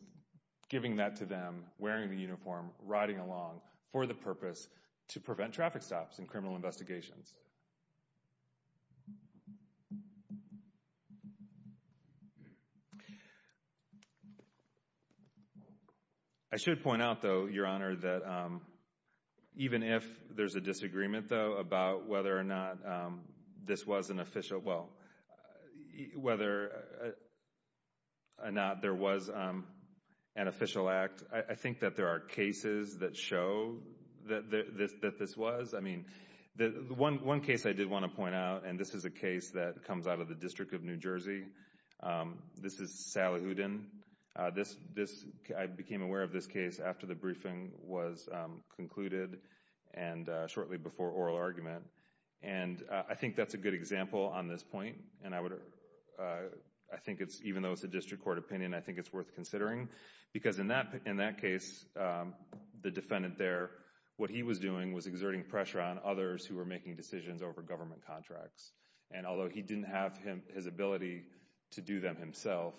giving that to them, wearing the uniform, riding along, for the purpose to prevent traffic stops in criminal investigations. I should point out, though, Your Honor, that even if there's a disagreement, though, about whether or not this was an official, well, whether or not there was an official act, I think that there are cases that show that this was. I mean, one case I did want to point out, and this is a case that comes out of the District of New Jersey. This is Salahuddin. I became aware of this case after the briefing was concluded and shortly before oral argument. And I think that's a good example on this point, and I would, I think it's, even though it's a district court opinion, I think it's worth considering, because in that case, the defendant there, what he was doing was exerting pressure on others who were making decisions over government contracts. And although he didn't have his ability to do them himself,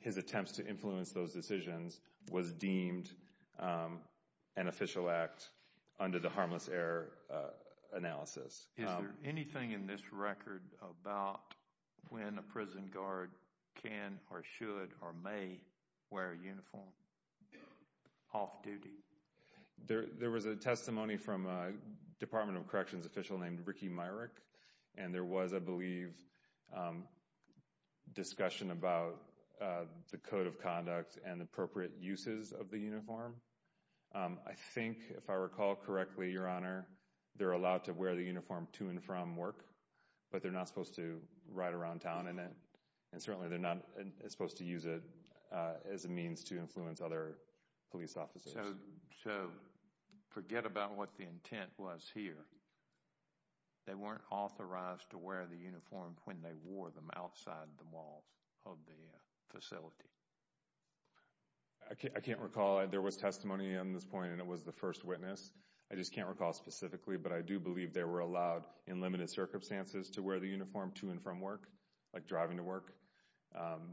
his attempts to influence those decisions was deemed an official act under the harmless error analysis. Is there anything in this record about when a prison guard can or should or may wear a uniform off-duty? There was a testimony from a Department of Corrections official named Ricky Myrick, and there was, I believe, discussion about the code of conduct and appropriate uses of the uniform. I think, if I recall correctly, Your Honor, they're allowed to wear the uniform to and from work, but they're not supposed to ride around town in it, and certainly they're not supposed to use it as a means to influence other police officers. So forget about what the intent was here. They weren't authorized to wear the uniform when they wore them outside the walls of the facility. I can't recall. There was testimony on this point, and it was the first witness. I just can't recall specifically, but I do believe they were allowed in limited circumstances to wear the uniform to and from work, like driving to work,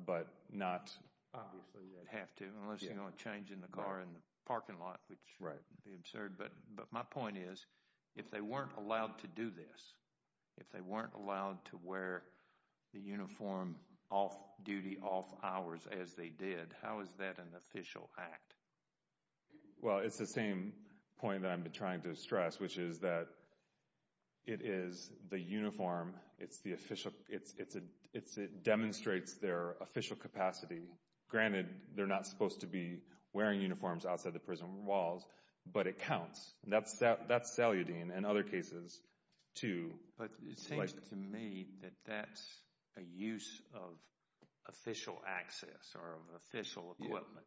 but not— Obviously, they'd have to unless you're going to change in the car in the parking lot, which would be absurd. But my point is, if they weren't allowed to do this, if they weren't allowed to wear the uniform off-duty, off-hours as they did, how is that an official act? Well, it's the same point that I've been trying to stress, which is that it is the uniform. It's the official—it demonstrates their official capacity. Granted, they're not supposed to be wearing uniforms outside the prison walls, but it counts. That's saludine and other cases, too. But it seems to me that that's a use of official access or of official equipment,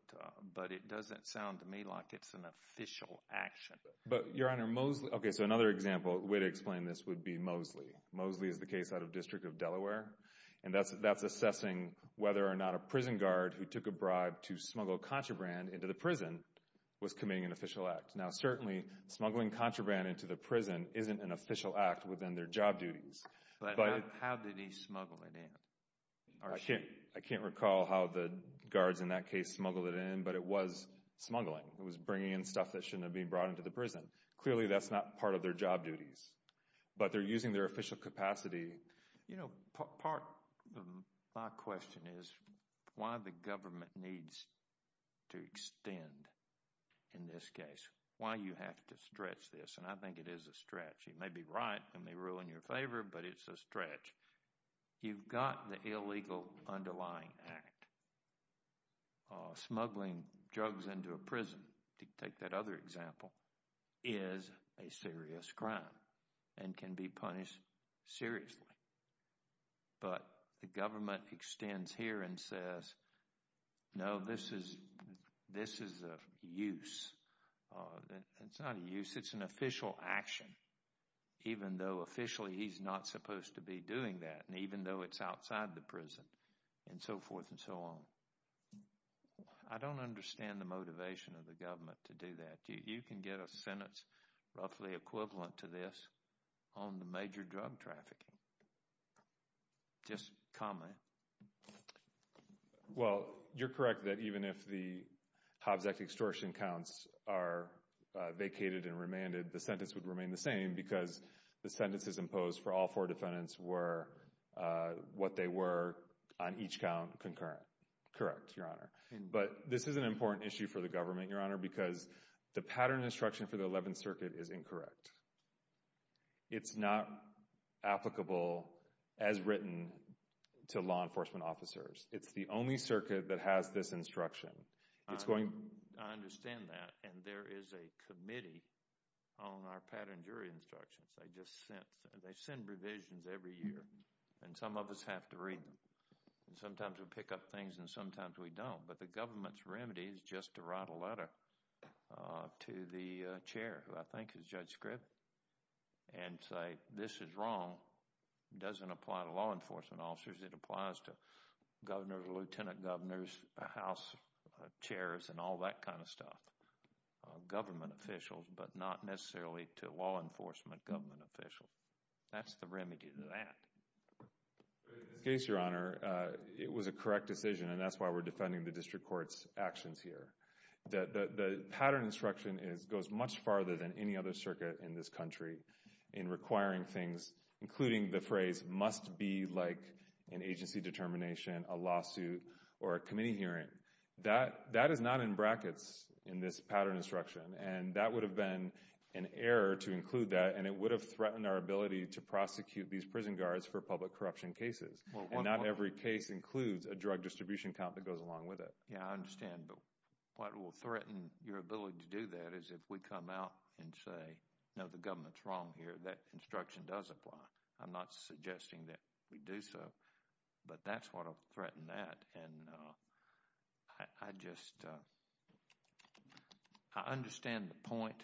but it doesn't sound to me like it's an official action. But, Your Honor, Mosley—OK, so another example, a way to explain this would be Mosley. Mosley is the case out of District of Delaware, and that's assessing whether or not a prison guard who took a bribe to smuggle contraband into the prison was committing an official act. Now, certainly, smuggling contraband into the prison isn't an official act within their job duties. But how did he smuggle it in? I can't recall how the guards in that case smuggled it in, but it was smuggling. It was bringing in stuff that shouldn't have been brought into the prison. Clearly, that's not part of their job duties, but they're using their official capacity. You know, part of my question is why the government needs to extend in this case, why you have to stretch this. And I think it is a stretch. You may be right and they rule in your favor, but it's a stretch. You've got the illegal underlying act. Smuggling drugs into a prison, to take that other example, is a serious crime and can be punished seriously. But the government extends here and says, no, this is a use. It's not a use. It's an official action, even though officially he's not supposed to be doing that, and even though it's outside the prison and so forth and so on. I don't understand the motivation of the government to do that. You can get a sentence roughly equivalent to this on the major drug trafficking. Just comment. Well, you're correct that even if the Hobbs Act extortion counts are vacated and remanded, the sentence would remain the same because the sentences imposed for all four defendants were what they were on each count concurrent. Correct. Your Honor. But this is an important issue for the government, Your Honor, because the pattern instruction for the 11th Circuit is incorrect. It's not applicable as written to law enforcement officers. It's the only circuit that has this instruction. I understand that, and there is a committee on our pattern jury instructions. They send revisions every year, and some of us have to read them. Sometimes we pick up things and sometimes we don't. But the government's remedy is just to write a letter to the chair, who I think is Judge Scribd, and say this is wrong. It doesn't apply to law enforcement officers. It applies to governors, lieutenant governors, house chairs, and all that kind of stuff, government officials, but not necessarily to law enforcement government officials. That's the remedy to that. In this case, Your Honor, it was a correct decision, and that's why we're defending the district court's actions here. The pattern instruction goes much farther than any other circuit in this country in requiring things, including the phrase, must be like an agency determination, a lawsuit, or a committee hearing. That is not in brackets in this pattern instruction, and that would have been an error to include that, and it would have threatened our ability to prosecute these prison guards for public corruption cases. Not every case includes a drug distribution count that goes along with it. Yeah, I understand, but what will threaten your ability to do that is if we come out and say, no, the government's wrong here, that instruction does apply. I'm not suggesting that we do so, but that's what will threaten that. I understand the point,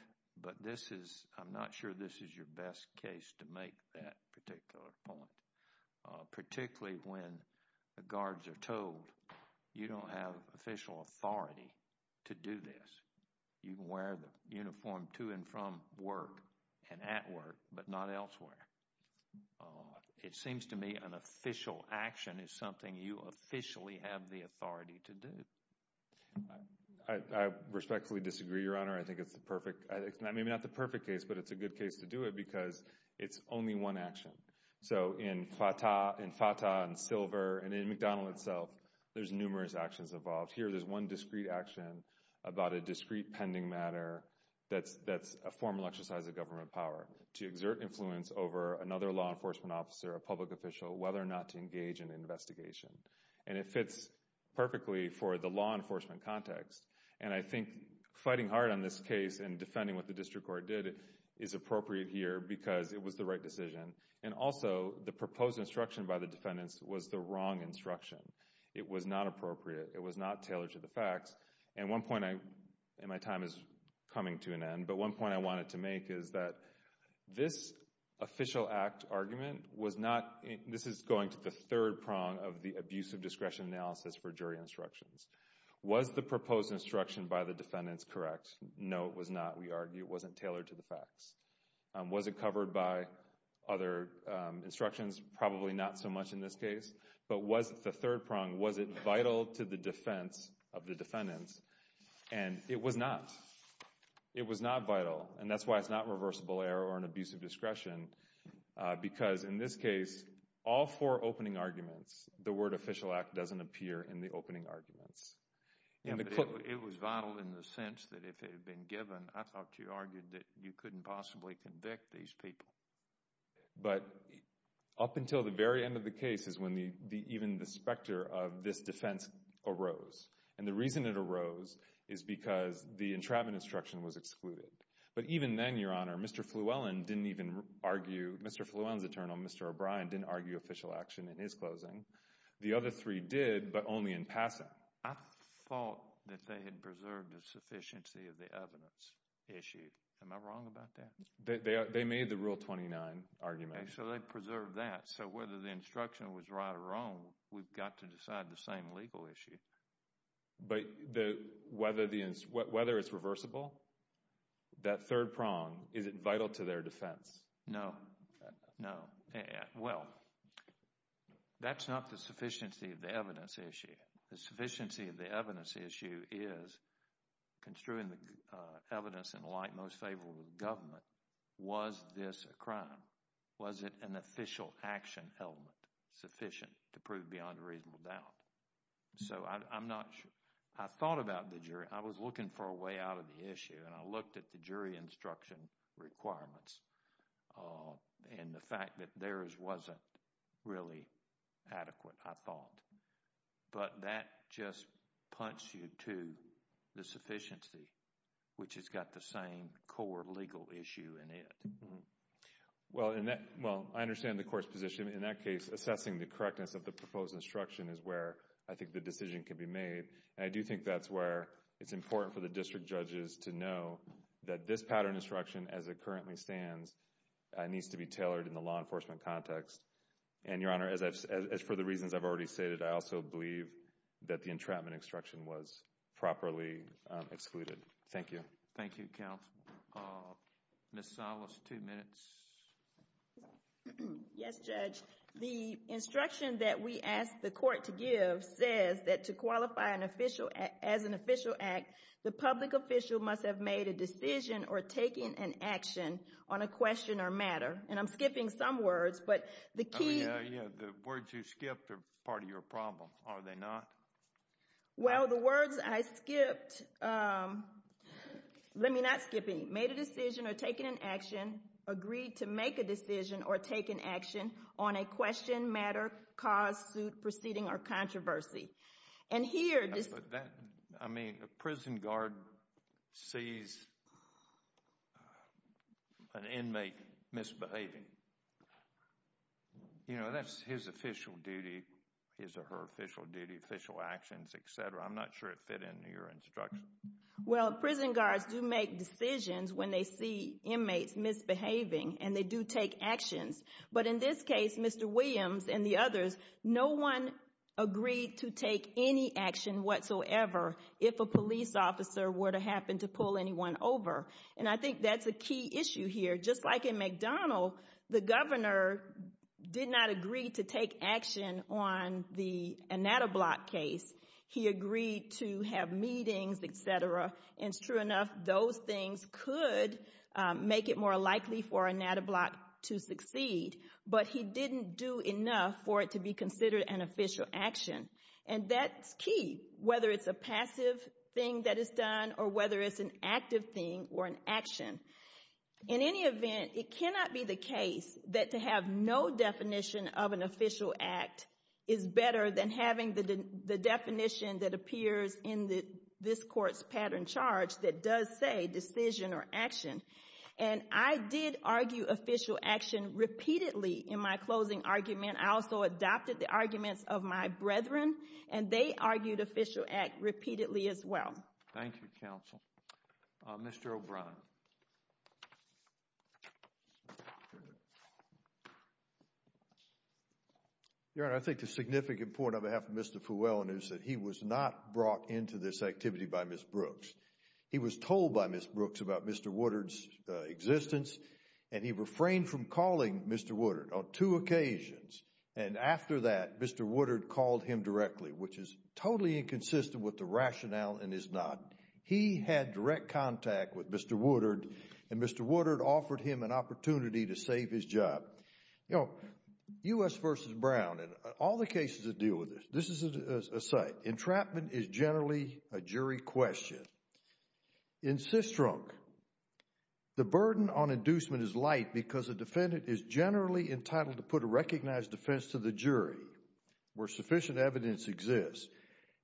but I'm not sure this is your best case to make that particular point, particularly when the guards are told you don't have official authority to do this. You can wear the uniform to and from work and at work, but not elsewhere. It seems to me an official action is something you officially have the authority to do. I respectfully disagree, Your Honor. I think it's maybe not the perfect case, but it's a good case to do it because it's only one action. So in FATA and Silver and in McDonald itself, there's numerous actions involved. Here there's one discrete action about a discrete pending matter that's a formal exercise of government power to exert influence over another law enforcement officer, a public official, whether or not to engage in an investigation. And it fits perfectly for the law enforcement context. And I think fighting hard on this case and defending what the district court did is appropriate here because it was the right decision. And also the proposed instruction by the defendants was the wrong instruction. It was not appropriate. It was not tailored to the facts. And my time is coming to an end, but one point I wanted to make is that this official act argument was not this is going to the third prong of the abuse of discretion analysis for jury instructions. Was the proposed instruction by the defendants correct? No, it was not. We argue it wasn't tailored to the facts. Was it covered by other instructions? Probably not so much in this case. But was the third prong, was it vital to the defense of the defendants? And it was not. It was not vital. And that's why it's not reversible error or an abuse of discretion because in this case, all four opening arguments, the word official act doesn't appear in the opening arguments. It was vital in the sense that if it had been given, I thought you argued that you couldn't possibly convict these people. But up until the very end of the case is when even the specter of this defense arose. And the reason it arose is because the entrapment instruction was excluded. But even then, Your Honor, Mr. Flewellen didn't even argue. Mr. Flewellen's attorney, Mr. O'Brien, didn't argue official action in his closing. The other three did, but only in passing. I thought that they had preserved a sufficiency of the evidence issued. Am I wrong about that? They made the Rule 29 argument. So they preserved that. So whether the instruction was right or wrong, we've got to decide the same legal issue. But whether it's reversible, that third prong, is it vital to their defense? No. No. Well, that's not the sufficiency of the evidence issue. The sufficiency of the evidence issue is construing the evidence in light most favorable to the government. Was this a crime? Was it an official action element sufficient to prove beyond a reasonable doubt? So I'm not sure. I thought about the jury. I was looking for a way out of the issue, and I looked at the jury instruction requirements. And the fact that theirs wasn't really adequate, I thought. But that just punched you to the sufficiency, which has got the same core legal issue in it. Well, I understand the court's position. In that case, assessing the correctness of the proposed instruction is where I think the decision can be made. And I do think that's where it's important for the district judges to know that this pattern instruction, as it currently stands, needs to be tailored in the law enforcement context. And, Your Honor, as for the reasons I've already stated, I also believe that the entrapment instruction was properly excluded. Thank you. Thank you, counsel. Ms. Salas, two minutes. Yes, Judge. The instruction that we asked the court to give says that to qualify as an official act, the public official must have made a decision or taken an action on a question or matter. And I'm skipping some words, but the key. The words you skipped are part of your problem, are they not? Well, the words I skipped, let me not skip any, made a decision or taken an action, agreed to make a decision or take an action on a question, matter, cause, suit, proceeding, or controversy. I mean, a prison guard sees an inmate misbehaving. You know, that's his official duty, his or her official duty, official actions, et cetera. I'm not sure it fit into your instruction. Well, prison guards do make decisions when they see inmates misbehaving, and they do take actions. But in this case, Mr. Williams and the others, no one agreed to take any action whatsoever if a police officer were to happen to pull anyone over. And I think that's a key issue here. Just like in McDonald, the governor did not agree to take action on the Anatoblock case. He agreed to have meetings, et cetera. And it's true enough, those things could make it more likely for Anatoblock to succeed, but he didn't do enough for it to be considered an official action. And that's key, whether it's a passive thing that is done or whether it's an active thing or an action. In any event, it cannot be the case that to have no definition of an official act is better than having the definition that appears in this court's pattern charge that does say decision or action. And I did argue official action repeatedly in my closing argument. I also adopted the arguments of my brethren, and they argued official act repeatedly as well. Thank you, counsel. Mr. O'Brien. Your Honor, I think the significant point on behalf of Mr. Fulwellen is that he was not brought into this activity by Ms. Brooks. He was told by Ms. Brooks about Mr. Woodard's existence, and he refrained from calling Mr. Woodard on two occasions. And after that, Mr. Woodard called him directly, which is totally inconsistent with the rationale and is not. He had direct contact with Mr. Woodard, and Mr. Woodard offered him an opportunity to save his job. You know, U.S. v. Brown, and all the cases that deal with this, this is a site. Entrapment is generally a jury question. In Sistrunk, the burden on inducement is light because a defendant is generally entitled to put a recognized defense to the jury where sufficient evidence exists.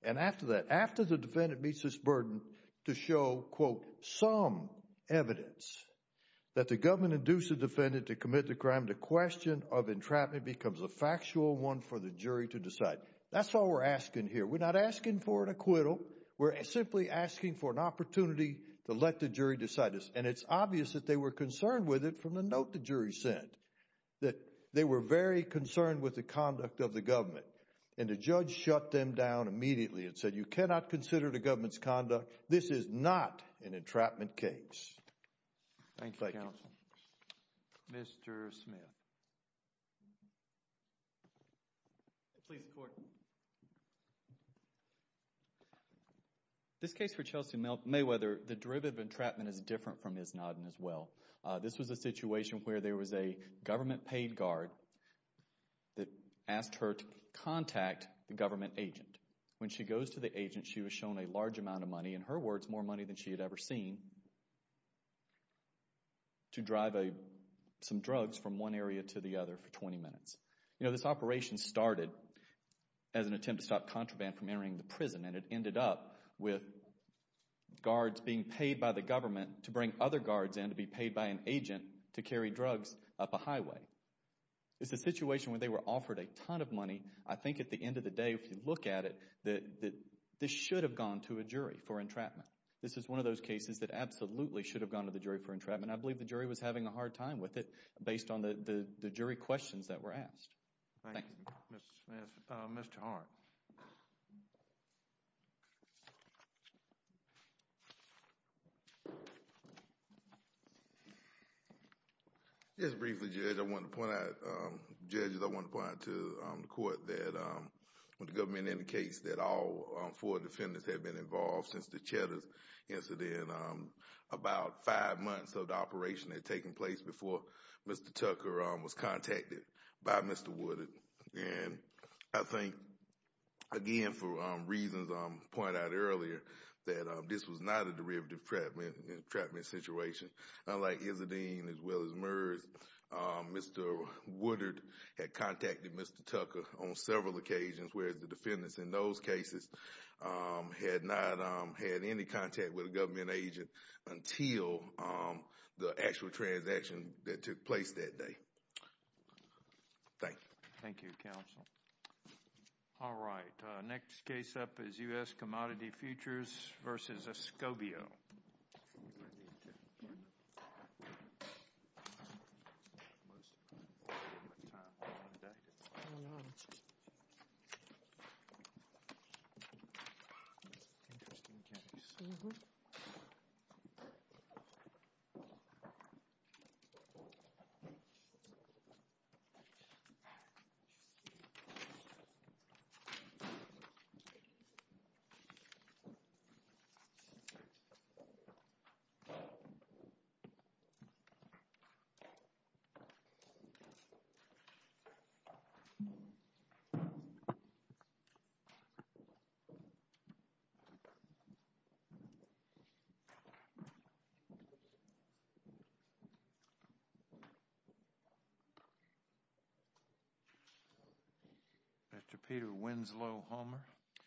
And after that, after the defendant meets this burden to show, quote, some evidence that the government induced the defendant to commit the crime, the question of entrapment becomes a factual one for the jury to decide. That's all we're asking here. We're not asking for an acquittal. We're simply asking for an opportunity to let the jury decide this. And it's obvious that they were concerned with it from the note the jury sent, that they were very concerned with the conduct of the government. And the judge shut them down immediately and said, you cannot consider the government's conduct. This is not an entrapment case. Thank you, counsel. Mr. Smith. Please, the court. This case for Chelsea Mayweather, the derivative of entrapment is different from Ms. Nodden as well. This was a situation where there was a government paid guard that asked her to contact the government agent. When she goes to the agent, she was shown a large amount of money, in her words, more money than she had ever seen, to drive some drugs from one area to the other for 20 minutes. You know, this operation started as an attempt to stop contraband from entering the prison, and it ended up with guards being paid by the government to bring other guards in to be paid by an agent to carry drugs up a highway. It's a situation where they were offered a ton of money. I think at the end of the day, if you look at it, that this should have gone to a jury for entrapment. This is one of those cases that absolutely should have gone to the jury for entrapment. I believe the jury was having a hard time with it based on the jury questions that were asked. Thank you. Mr. Hart. Just briefly, Judge, I want to point out to the court that the government indicates that all four defendants have been involved since the Cheddar incident. And about five months of the operation had taken place before Mr. Tucker was contacted by Mr. Woodard. And I think, again, for reasons I pointed out earlier, that this was not a derivative entrapment situation. Unlike Izzardine, as well as MERS, Mr. Woodard had contacted Mr. Tucker on several occasions, whereas the defendants in those cases had not had any contact with a government agent until the actual transaction that took place that day. Thank you. Thank you, counsel. All right. Next case up is U.S. Commodity Futures v. Escobio. Interesting case. Mr. Peter Winslow-Homer.